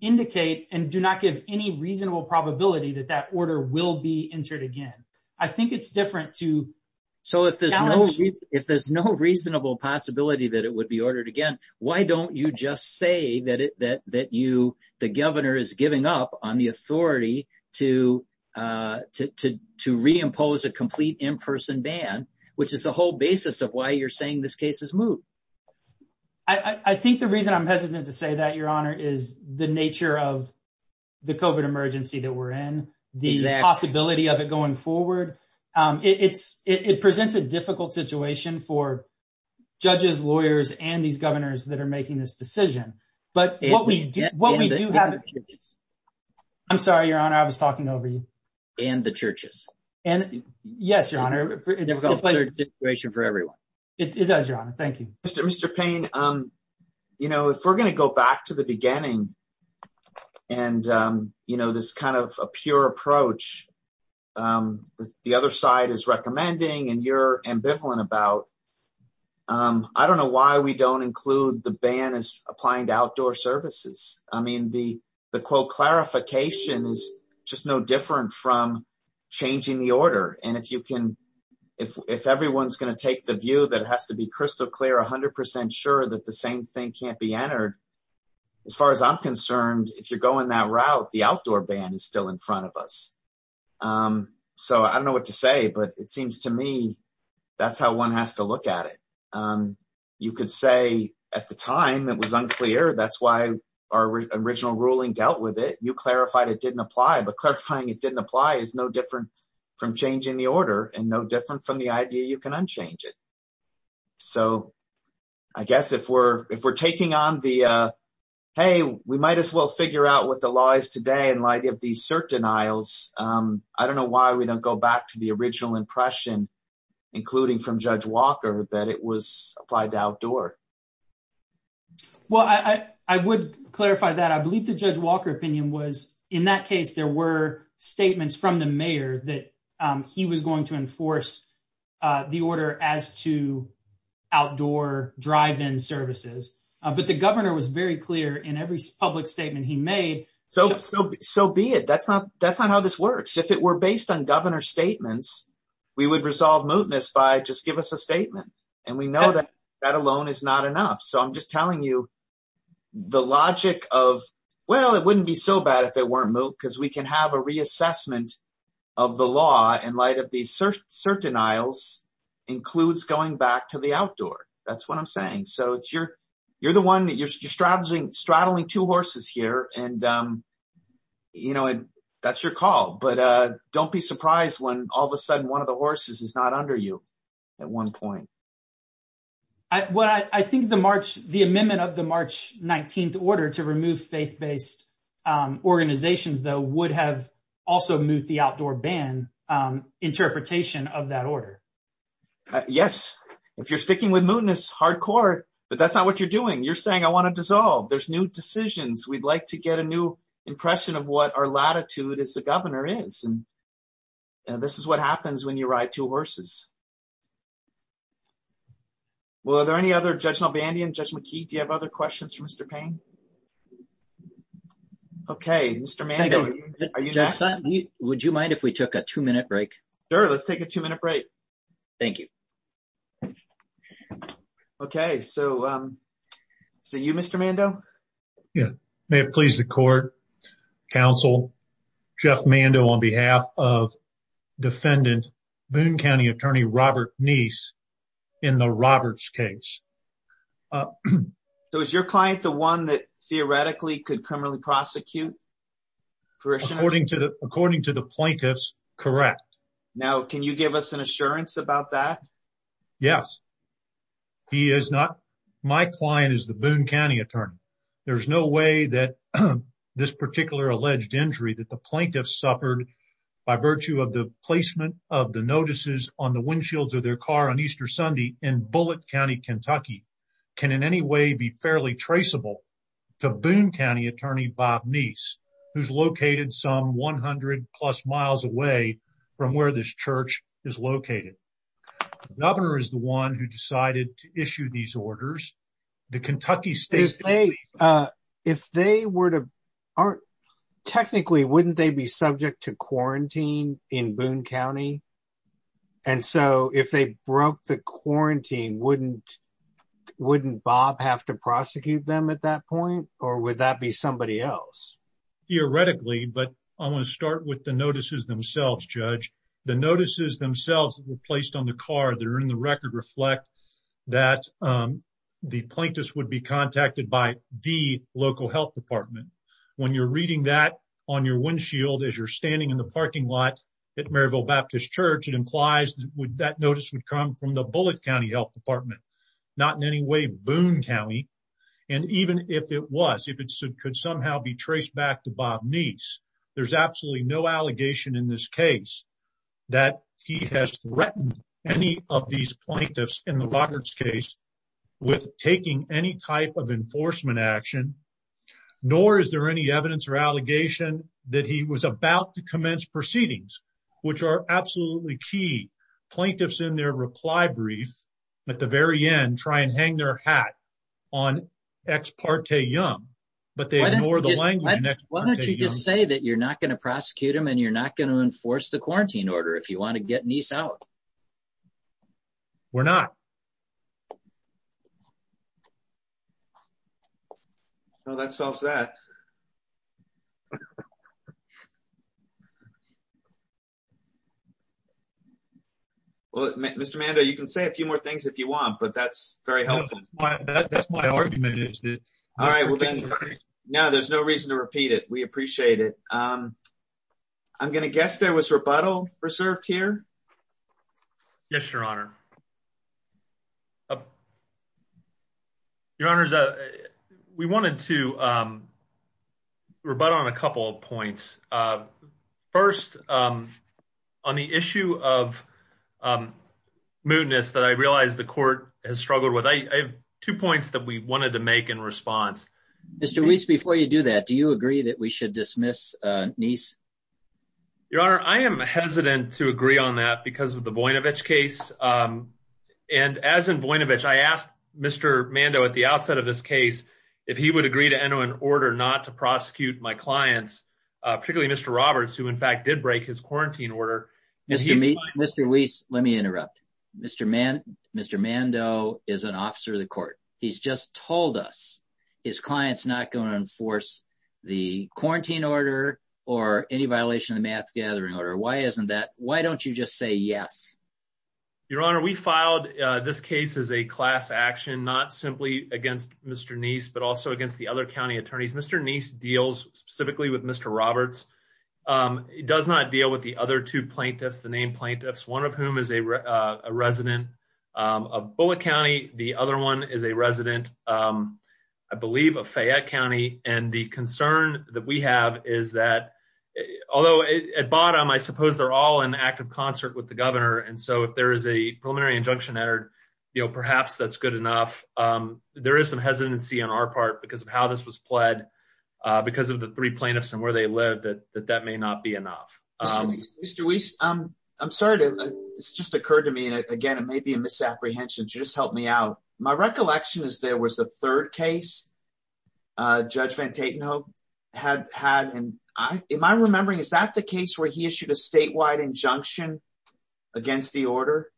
indicate and do not give any reasonable probability that that order will be entered again. I think it's different to… So if there's no reasonable possibility that it would be ordered again, why don't you just say that the governor is giving up on the authority to reimpose a complete in-person ban, which is the whole basis of why you're saying this case is moot? I think the reason I'm hesitant to say that, Your Honor, is the nature of the COVID emergency that we're in, the possibility of it going forward. It presents a difficult situation for judges, lawyers, and these governors that are making this decision. But what we do have… And the churches. I'm sorry, Your Honor, I was talking over you. And the churches. Yes, Your Honor. It's a situation for everyone. It does, Your Honor. Thank you. Mr. Payne, you know, if we're going to go back to the beginning and, you know, this kind of a pure approach that the other side is recommending and you're ambivalent about, I don't know why we don't include the ban as applying to outdoor services. I mean, the, quote, clarification is just no different from changing the order. And if you can… If everyone's going to take the view that it has to be crystal clear, 100% sure that the same thing can't be entered, as far as I'm concerned, if you're going that route, the outdoor ban is still in front of us. So I don't know what to say, but it seems to me that's how one has to look at it. You could say, at the time, it was unclear. That's why our original ruling dealt with it. You clarified it didn't apply. But clarifying it didn't apply is no different from changing the order and no different from the idea you can unchange it. So I guess if we're taking on the, hey, we might as well figure out what the law is today in light of these cert denials, I don't know why we don't go back to the original impression, including from Judge Walker, that it was applied to outdoor. Well, I would clarify that. I believe the Judge Walker opinion was, in that case, there were statements from the mayor that he was going to enforce the order as to outdoor drive-in services. But the governor was very clear in every public statement he made… So be it. That's not how this works. If it were based on governor's statements, we would resolve mootness by just give us a statement. And we know that that alone is not enough. So I'm just telling you the logic of, well, it wouldn't be so bad if it weren't moot because we can have a reassessment of the law in light of these cert denials includes going back to the outdoor. That's what I'm saying. You're the one that you're straddling two horses here, and that's your call. But don't be surprised when all of a sudden one of the horses is not under you at one point. I think the amendment of the March 19th order to remove faith-based organizations, though, would have also moved the outdoor ban interpretation of that order. Yes. If you're sticking with mootness, hardcore. But that's not what you're doing. You're saying, I want to dissolve. There's new decisions. We'd like to get a new impression of what our latitude as a governor is. And this is what happens when you ride two horses. Well, are there any other… Judge Mulvaney and Judge McKee, do you have other questions for Mr. Payne? Okay, Mr. Maney, are you… Would you mind if we took a two-minute break? Sure, let's take a two-minute break. Thank you. Okay, so you, Mr. Mando? Yes. May it please the court, counsel, Jeff Mando on behalf of defendant Boone County Attorney Robert Neese in the Roberts case. So is your client the one that theoretically could criminally prosecute? According to the plaintiffs, correct. Now, can you give us an assurance about that? Yes. He is not… My client is the Boone County Attorney. There's no way that this particular alleged injury that the plaintiffs suffered by virtue of the placement of the notices on the windshields of their car on Easter Sunday in Bullitt County, Kentucky, can in any way be fairly traceable to Boone County Attorney Bob Neese, who's located some 100-plus miles away from where this church is located. The governor is the one who decided to issue these orders. The Kentucky State… If they were to… Technically, wouldn't they be subject to quarantine in Boone County? And so if they broke the quarantine, wouldn't Bob have to prosecute them at that point, or would that be somebody else? Theoretically, but I'm going to start with the notices themselves, Judge. The notices themselves that were placed on the car that are in the record reflect that the plaintiffs would be contacted by the local health department. When you're reading that on your windshield as you're standing in the parking lot at Maryville Baptist Church, it implies that that notice would come from the Bullitt County Health Department, not in any way Boone County. And even if it was, if it could somehow be traced back to Bob Neese, there's absolutely no allegation in this case that he has threatened any of these plaintiffs in the Roberts case with taking any type of enforcement action, nor is there any evidence or allegation that he was about to commence proceedings, which are absolutely key. Plaintiffs in their reply brief at the very end try and hang their hat on Ex parte Young, but they ignore the language in Ex parte Young. Why don't you just say that you're not going to prosecute them and you're not going to enforce the quarantine order if you want to get Neese out? We're not. Well, that solves that. Well, Mr. Mando, you can say a few more things if you want, but that's very helpful. That's my argument. All right. Now, there's no reason to repeat it. We appreciate it. I'm going to guess there was rebuttal preserved here. Yes, Your Honor. Your Honor, we wanted to rebut on a couple of points. First, on the issue of moodiness that I realize the court has struggled with, I have two points that we wanted to make in response. Mr. Weiss, before you do that, do you agree that we should dismiss Neese? Your Honor, I am hesitant to agree on that because of the Voinovich case. As in Voinovich, I asked Mr. Mando at the outset of this case if he would agree to enter an order not to prosecute my clients, particularly Mr. Roberts, who in fact did break his quarantine order. Mr. Weiss, let me interrupt. Mr. Mando is an officer of the court. He's just told us his client's not going to enforce the quarantine order or any violation of the mass gathering order. Why don't you just say yes? Your Honor, we filed this case as a class action, not simply against Mr. Neese, but also against the other county attorneys. Mr. Neese deals specifically with Mr. Roberts. He does not deal with the other two plaintiffs, the named plaintiffs, one of whom is a resident of Bullitt County. The other one is a resident, I believe, of Fayette County. The concern that we have is that, although at bottom, I suppose they're all in active concert with the governor, and so if there is a preliminary injunction entered, perhaps that's good enough. There is some hesitancy on our part because of how this was pled because of the three plaintiffs and where they live that that may not be enough. Mr. Weiss, I'm sorry. This just occurred to me. Again, it may be a misapprehension. Just help me out. My recollection is there was a third case. Judge Van Tatenhove had had, and am I remembering, is that the case where he issued a statewide injunction against the order?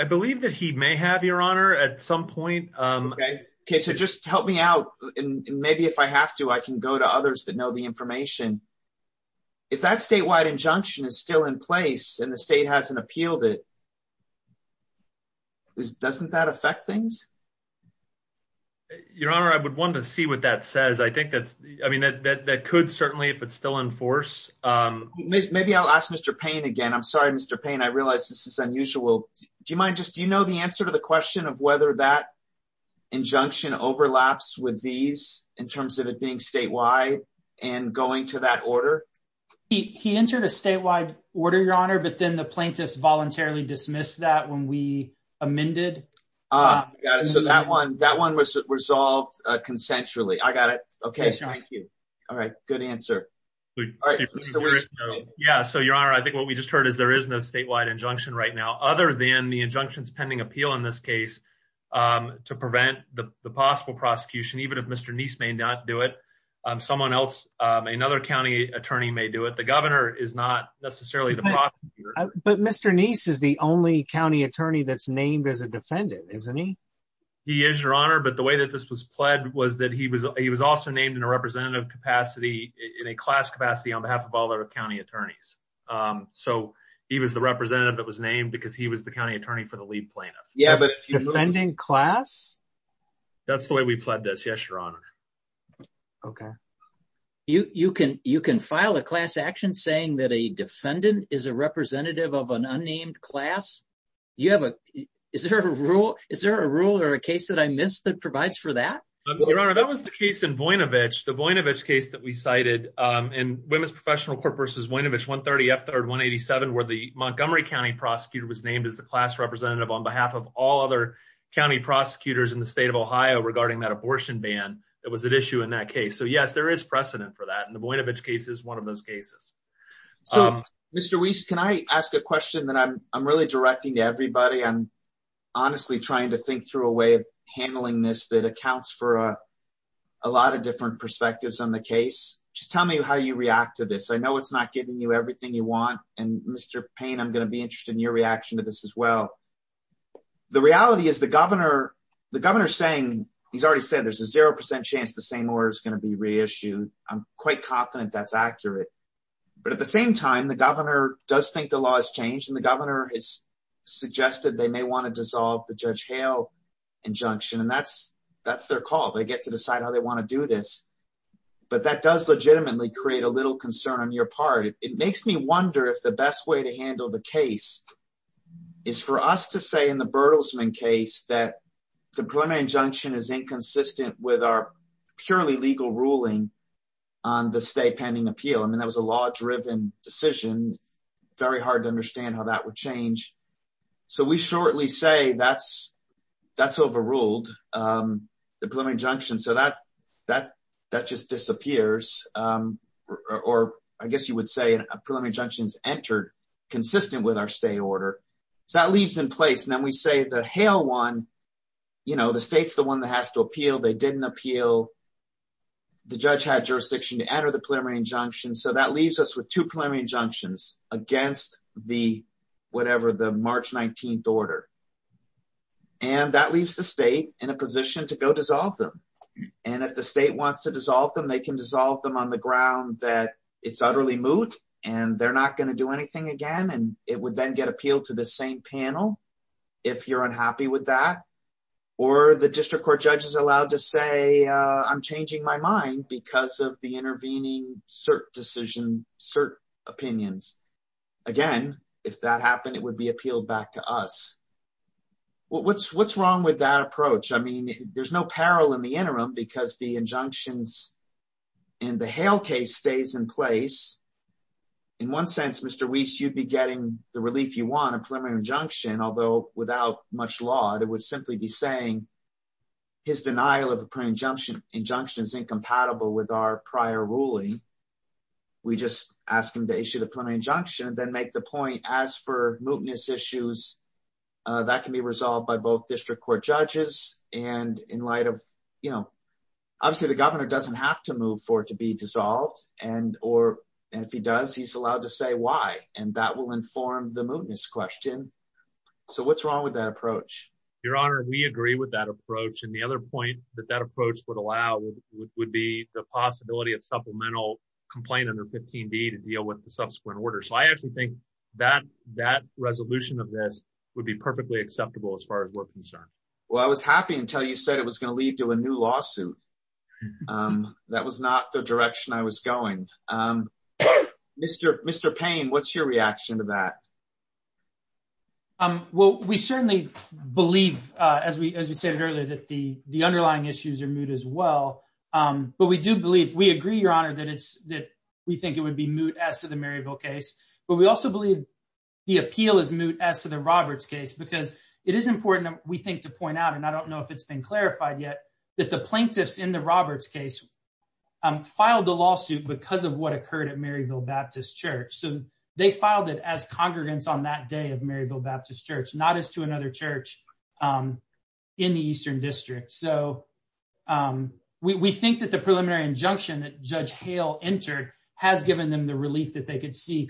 I believe that he may have, Your Honor, at some point. Okay, so just help me out, and maybe if I have to, I can go to others that know the information. If that statewide injunction is still in place and the state hasn't appealed it, doesn't that affect things? Your Honor, I would want to see what that says. I think that could certainly, if it's still in force. Maybe I'll ask Mr. Payne again. I'm sorry, Mr. Payne. I realize this is unusual. Do you know the answer to the question of whether that injunction overlaps with these in terms of it being statewide and going to that order? He entered a statewide order, Your Honor, but then the plaintiffs voluntarily dismissed that when we amended. Got it. So that one was resolved consensually. I got it. Okay, thank you. All right. Good answer. Yeah, so, Your Honor, I think what we just heard is there is no statewide injunction right now, other than the injunctions pending appeal in this case to prevent the possible prosecution, even if Mr. Neese may not do it. Someone else, another county attorney may do it. The governor is not necessarily the prosecutor. But Mr. Neese is the only county attorney that's named as a defendant, isn't he? He is, Your Honor. But the way that this was pled was that he was also named in a representative capacity in a class capacity on behalf of all other county attorneys. So he was the representative that was named because he was the county attorney for the lead plaintiff. Yeah, but a defendant in class? That's the way we pled this, yes, Your Honor. Okay. You can file a class action saying that a defendant is a representative of an unnamed class? Is there a rule or a case that I missed that provides for that? Your Honor, that was the case in Voinovich. The Voinovich case that we cited in Women's Professional Court v. Voinovich, 130 F. 187, where the Montgomery County prosecutor was named as the class representative on behalf of all other county prosecutors in the state of Ohio regarding that abortion ban that was at issue in that case. So, yes, there is precedent for that. And the Voinovich case is one of those cases. Mr. Weiss, can I ask a question that I'm really directing to everybody? I'm honestly trying to think through a way of handling this that accounts for a lot of different perspectives on the case. Just tell me how you react to this. I know it's not giving you everything you want. And, Mr. Payne, I'm going to be interested in your reaction to this as well. The reality is the governor is saying, he's already said there's a 0% chance the same order is going to be reissued. I'm quite confident that's accurate. But at the same time, the governor does think the law has changed, and the governor has suggested they may want to dissolve the Judge Hale injunction. And that's their call. They get to decide how they want to do this. But that does legitimately create a little concern on your part. It makes me wonder if the best way to handle the case is for us to say in the Bertelsmann case that the preliminary injunction is inconsistent with our purely legal ruling on the state pending appeal. I mean, that was a law-driven decision. Very hard to understand how that would change. So we shortly say that's overruled, the preliminary injunction. So that just disappears. Or I guess you would say a preliminary injunction is entered consistent with our state order. So that leaves in place. And then we say that Hale won. You know, the state's the one that has to appeal. They didn't appeal. The judge had jurisdiction to enter the preliminary injunction. So that leaves us with two preliminary injunctions against the whatever, the March 19th order. And that leaves the state in a position to go dissolve them. And if the state wants to dissolve them, they can dissolve them on the ground that it's utterly moot and they're not going to do anything again. And it would then get appealed to the same panel if you're unhappy with that. Or the district court judge is allowed to say I'm changing my mind because of the intervening cert decision, cert opinions. Again, if that happened, it would be appealed back to us. What's wrong with that approach? I mean, there's no peril in the interim because the injunctions in the Hale case stays in place. In one sense, Mr. Weiss, you'd be getting the relief you want, a preliminary injunction, although without much law. It would simply be saying his denial of a preliminary injunction is incompatible with our prior ruling. We just ask him to issue the preliminary injunction and then make the point as for mootness issues, that can be resolved by both district court judges. Obviously, the governor doesn't have to move for it to be dissolved. And if he does, he's allowed to say why. And that will inform the mootness question. So what's wrong with that approach? Your Honor, we agree with that approach. And the other point that that approach would allow would be the possibility of supplemental complaint under 15B to deal with the subsequent order. So I actually think that resolution of this would be perfectly acceptable as far as we're concerned. Well, I was happy until you said it was going to lead to a new lawsuit. That was not the direction I was going. Mr. Payne, what's your reaction to that? Well, we certainly believe, as we said earlier, that the underlying issues are moot as well. But we do believe, we agree, Your Honor, that we think it would be moot as to the Maryville case. But we also believe the appeal is moot as to the Roberts case because it is important, we think, to point out, and I don't know if it's been clarified yet, that the plaintiffs in the Roberts case filed the lawsuit because of what occurred at Maryville Baptist Church. So they filed it as congregants on that day of Maryville Baptist Church, not as to another church in the Eastern District. So we think that the preliminary injunction that Judge Hale entered has given them the relief that they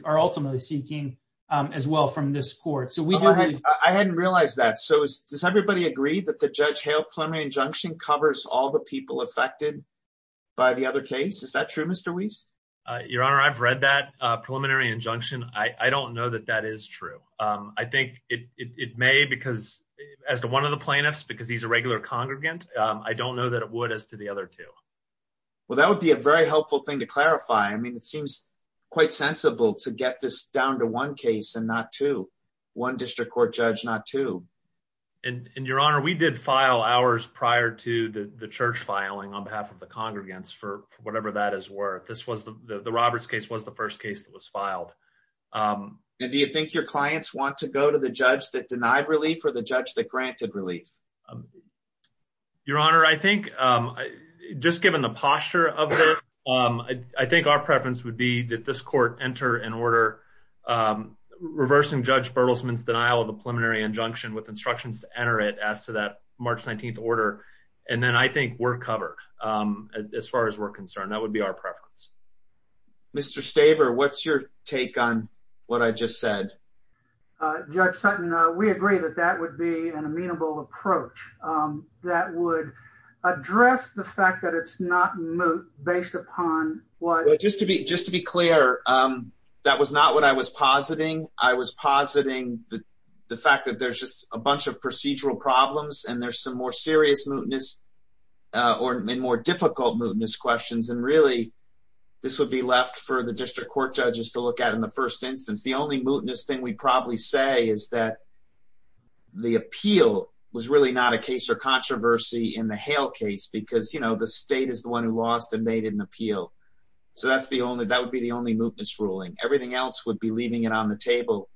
are ultimately seeking as well from this court. I hadn't realized that. So does everybody agree that the Judge Hale preliminary injunction covers all the people affected by the other case? Is that true, Mr. Weiss? Your Honor, I've read that preliminary injunction. I don't know that that is true. I think it may because, as one of the plaintiffs, because he's a regular congregant, I don't know that it would as to the other two. Well, that would be a very helpful thing to clarify. I mean, it seems quite sensible to get this down to one case and not two. One district court judge, not two. And, Your Honor, we did file ours prior to the church filing on behalf of the congregants for whatever that is worth. The Roberts case was the first case that was filed. And do you think your clients want to go to the judge that denied relief or the judge that granted relief? Your Honor, I think, just given the posture of it, I think our preference would be that this court enter an order reversing Judge Bertelsman's denial of a preliminary injunction with instructions to enter it as to that March 19th order. And then I think we're covered as far as we're concerned. That would be our preference. Mr. Staver, what's your take on what I just said? Judge Sutton, we agree that that would be an amenable approach that would address the fact that it's not moot based upon what- Just to be clear, that was not what I was positing. I was positing the fact that there's just a bunch of procedural problems and there's some more serious mootness or more difficult mootness questions. And really, this would be left for the district court judges to look at in the first instance. The only mootness thing we'd probably say is that the appeal was really not a case of controversy in the Hale case because the state is the one who lost and made an appeal. So that would be the only mootness ruling. Everything else would be leaving it on the table.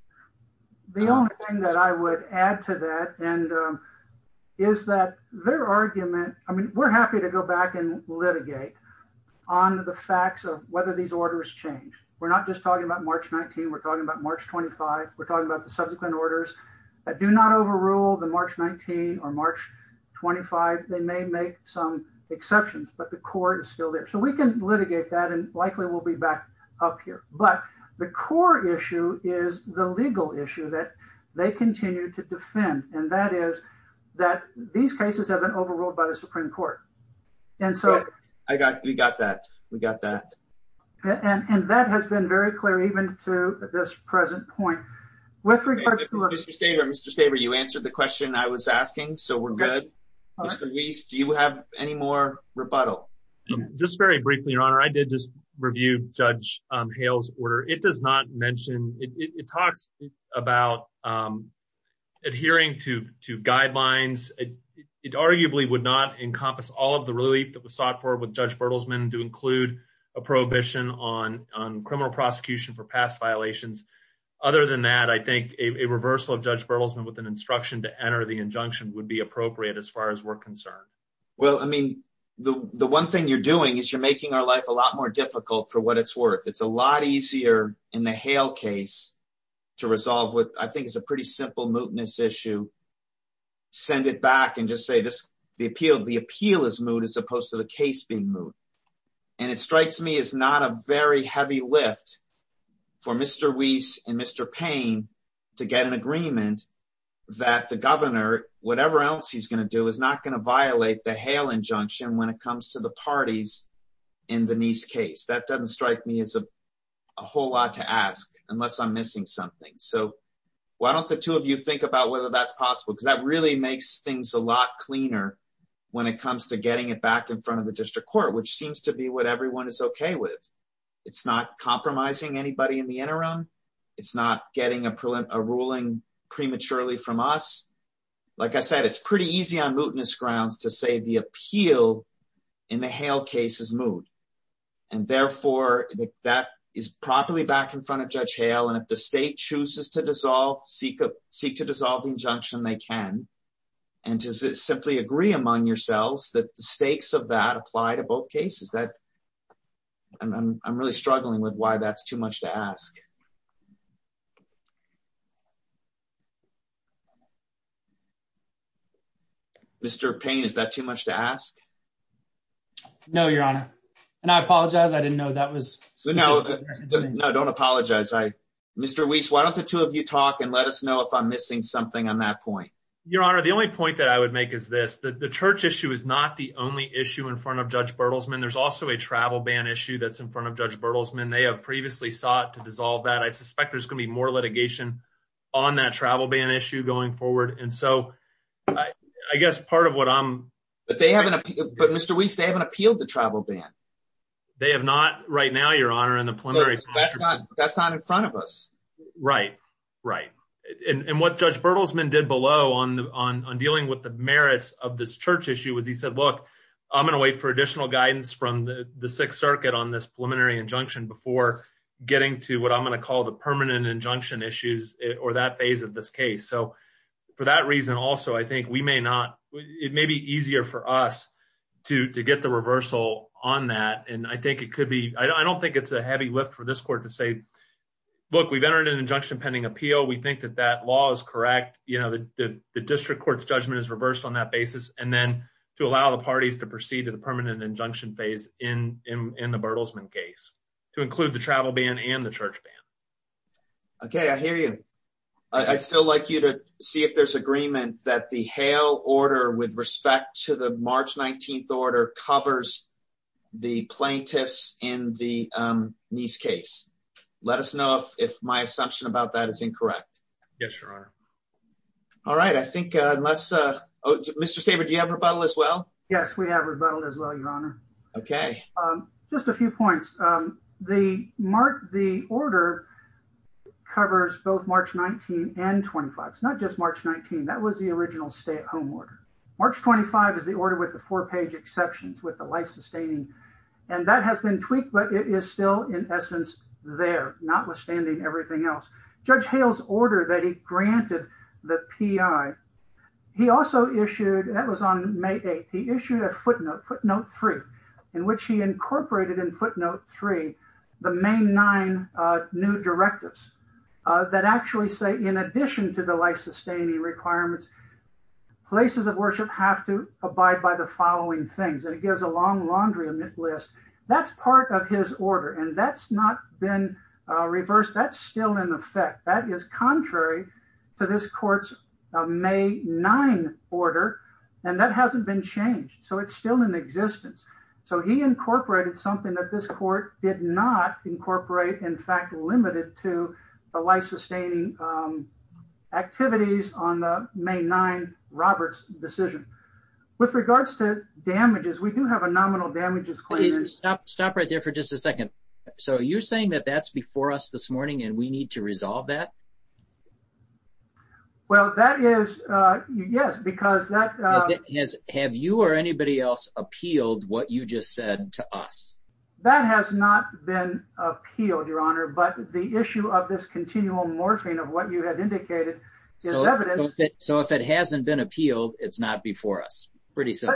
The only thing that I would add to that is that their argument- I mean, we're happy to go back and litigate on the facts of whether these orders change. We're not just talking about March 19th. We're talking about March 25th. We're talking about the subsequent orders. Do not overrule the March 19th or March 25th. They may make some exceptions, but the court is still there. So we can litigate that and likely we'll be back up here. But the core issue is the legal issue that they continue to defend, and that is that these cases haven't been overruled by the Supreme Court. And so- We got that. We got that. And that has been very clear even through this present point. With regard to- Mr. Staber, you answered the question I was asking, so we're good. Mr. Weiss, do you have any more rebuttal? Just very briefly, Your Honor. I did just review Judge Hale's order. It does not mention- it talks about adhering to guidelines. It arguably would not encompass all of the relief that was sought for with Judge Bertelsman to include a prohibition on criminal prosecution for past violations. Other than that, I think a reversal of Judge Bertelsman with an instruction to enter the injunction would be appropriate as far as we're concerned. Well, I mean, the one thing you're doing is you're making our life a lot more difficult for what it's worth. It's a lot easier in the Hale case to resolve what I think is a pretty simple mootness issue, send it back, and just say the appeal is moot as opposed to the case being moot. And it strikes me as not a very heavy lift for Mr. Weiss and Mr. Payne to get an agreement that the governor, whatever else he's going to do, is not going to violate the Hale injunction when it comes to the parties in Denise's case. That doesn't strike me as a whole lot to ask unless I'm missing something. So why don't the two of you think about whether that's possible, because that really makes things a lot cleaner when it comes to getting it back in front of the district court, which seems to be what everyone is okay with. It's not compromising anybody in the interim. It's not getting a ruling prematurely from us. Like I said, it's pretty easy on mootness grounds to say the appeal in the Hale case is moot. And therefore, if that is properly back in front of Judge Hale and if the state chooses to dissolve, seek to dissolve the injunction, they can. And does it simply agree among yourselves that the stakes of that apply to both cases? I'm really struggling with why that's too much to ask. Mr. Payne, is that too much to ask? No, Your Honor. And I apologize. I didn't know that was... No, don't apologize. Mr. Weiss, why don't the two of you talk and let us know if I'm missing something on that point? Your Honor, the only point that I would make is this. The church issue is not the only issue in front of Judge Bertelsmann. There's also a travel ban issue that's in front of Judge Bertelsmann. They have previously sought to dissolve that. I suspect there's going to be more litigation on that travel ban issue going forward. I guess part of what I'm... But Mr. Weiss, they haven't appealed the travel ban. They have not right now, Your Honor. That's not in front of us. Right. Right. And what Judge Bertelsmann did below on dealing with the merits of this church issue was he said, look, I'm going to wait for additional guidance from the Sixth Circuit on this preliminary injunction before getting to what I'm going to call the permanent injunction issues or that phase of this case. So for that reason, also, I think we may not... It may be easier for us to get the reversal on that. And I think it could be... I don't think it's a heavy lift for this court to say, look, we've entered an injunction pending appeal. We think that that law is correct. You know, the district court's judgment is reversed on that basis. And then to allow the parties to proceed to the permanent injunction phase in the Bertelsmann case to include the travel ban and the church ban. Okay. I hear you. I'd still like you to see if there's agreement that the Hale order with respect to the March 19th order covers the plaintiffs in the Niess case. Let us know if my assumption about that is incorrect. Yes, Your Honor. All right. I think I must... Mr. Saber, do you have rebuttal as well? Yes, we have rebuttal as well, Your Honor. Okay. Just a few points. The order covers both March 19th and 25th. It's not just March 19th. That was the original stay-at-home order. March 25th is the order with the four-page exceptions with the life-sustaining. And that has been tweaked, but it is still, in essence, there, notwithstanding everything else. Judge Hale's order that he granted the PI, he also issued... That was on May 8th. He issued a footnote, footnote 3, in which he incorporated in footnote 3 the May 9 new directives that actually say, in addition to the life-sustaining requirements, places of worship have to abide by the following things. It gives a long laundry list. That's part of his order, and that's not been reversed. That's still in effect. That is contrary to this court's May 9 order, and that hasn't been changed, so it's still in existence. So he incorporated something that this court did not incorporate, in fact, limited to the life-sustaining activities on the May 9 Roberts decision. With regards to damages, we do have a nominal damages claim. So you're saying that that's before us this morning and we need to resolve that? Well, that is, yes, because that... Have you or anybody else appealed what you just said to us? That has not been appealed, Your Honor, but the issue of this continual morphing of what you have indicated is evident. So if it hasn't been appealed, it's not before us, pretty soon.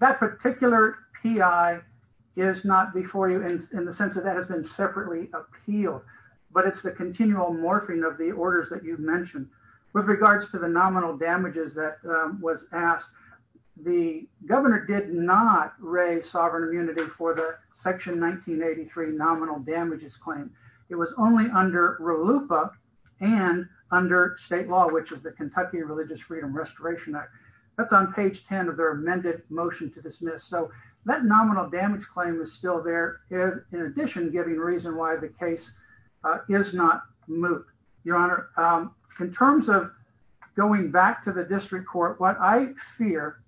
That particular P.I. is not before you in the sense that that has been separately appealed, but it's the continual morphing of the orders that you've mentioned. With regards to the nominal damages that was asked, the governor did not raise sovereign immunity for the Section 1983 nominal damages claim. It was only under RLUIPA and under state law, which is the Kentucky Religious Freedom Restoration Act. That's on page 10 of their amended motion to dismiss. So that nominal damage claim is still there, in addition to giving reason why the case is not moved. Your Honor, in terms of going back to the district court, what I fear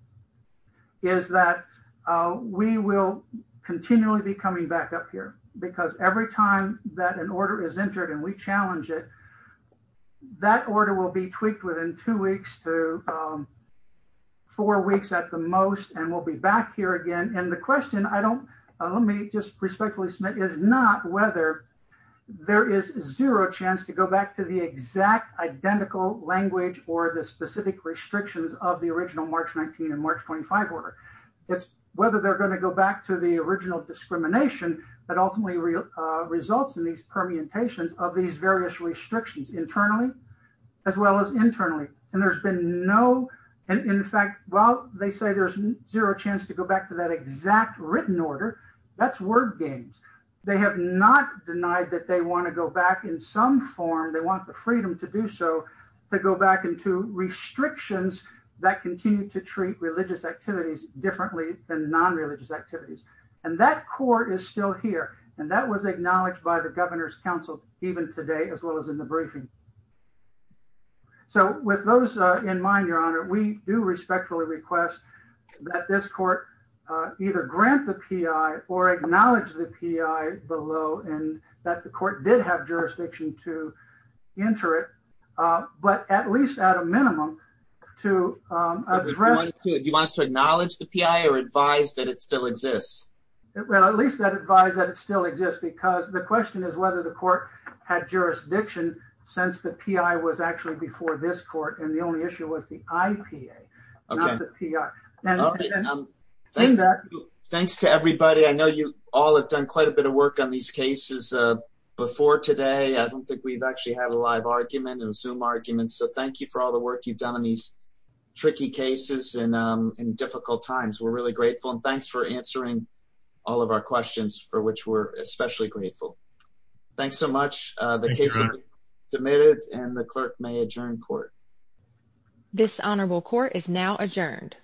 is that we will continually be coming back up here, because every time that an order is entered and we challenge it, that order will be tweaked within two weeks to four weeks at the most, and we'll be back here again. And the question, let me just respectfully submit, is not whether there is zero chance to go back to the exact identical language or the specific restrictions of the original March 19 and March 25 order. It's whether they're going to go back to the original discrimination that ultimately results in these permutations of these various restrictions, internally as well as internally. And there's been no, in fact, while they say there's zero chance to go back to that exact written order, that's word games. They have not denied that they want to go back in some form, they want the freedom to do so, to go back into restrictions that continue to treat religious activities differently than non-religious activities. And that court is still here, and that was acknowledged by the Governor's Council even today, as well as in the briefing. So with those in mind, Your Honor, we do respectfully request that this court either grant the P.I. or acknowledge the P.I. below, and that the court did have jurisdiction to enter it, but at least at a minimum to address... Do you want us to acknowledge the P.I. or advise that it still exists? Well, at least I'd advise that it still exists, because the question is whether the court had jurisdiction since the P.I. was actually before this court, and the only issue was the I.P.A., not the P.I. Thanks to everybody. I know you all have done quite a bit of work on these cases before today. I don't think we've actually had a live argument, a Zoom argument, so thank you for all the work you've done on these tricky cases in difficult times. We're really grateful, and thanks for answering all of our questions, for which we're especially grateful. Thanks so much. The case has been submitted, and the clerk may adjourn court. This honorable court is now adjourned.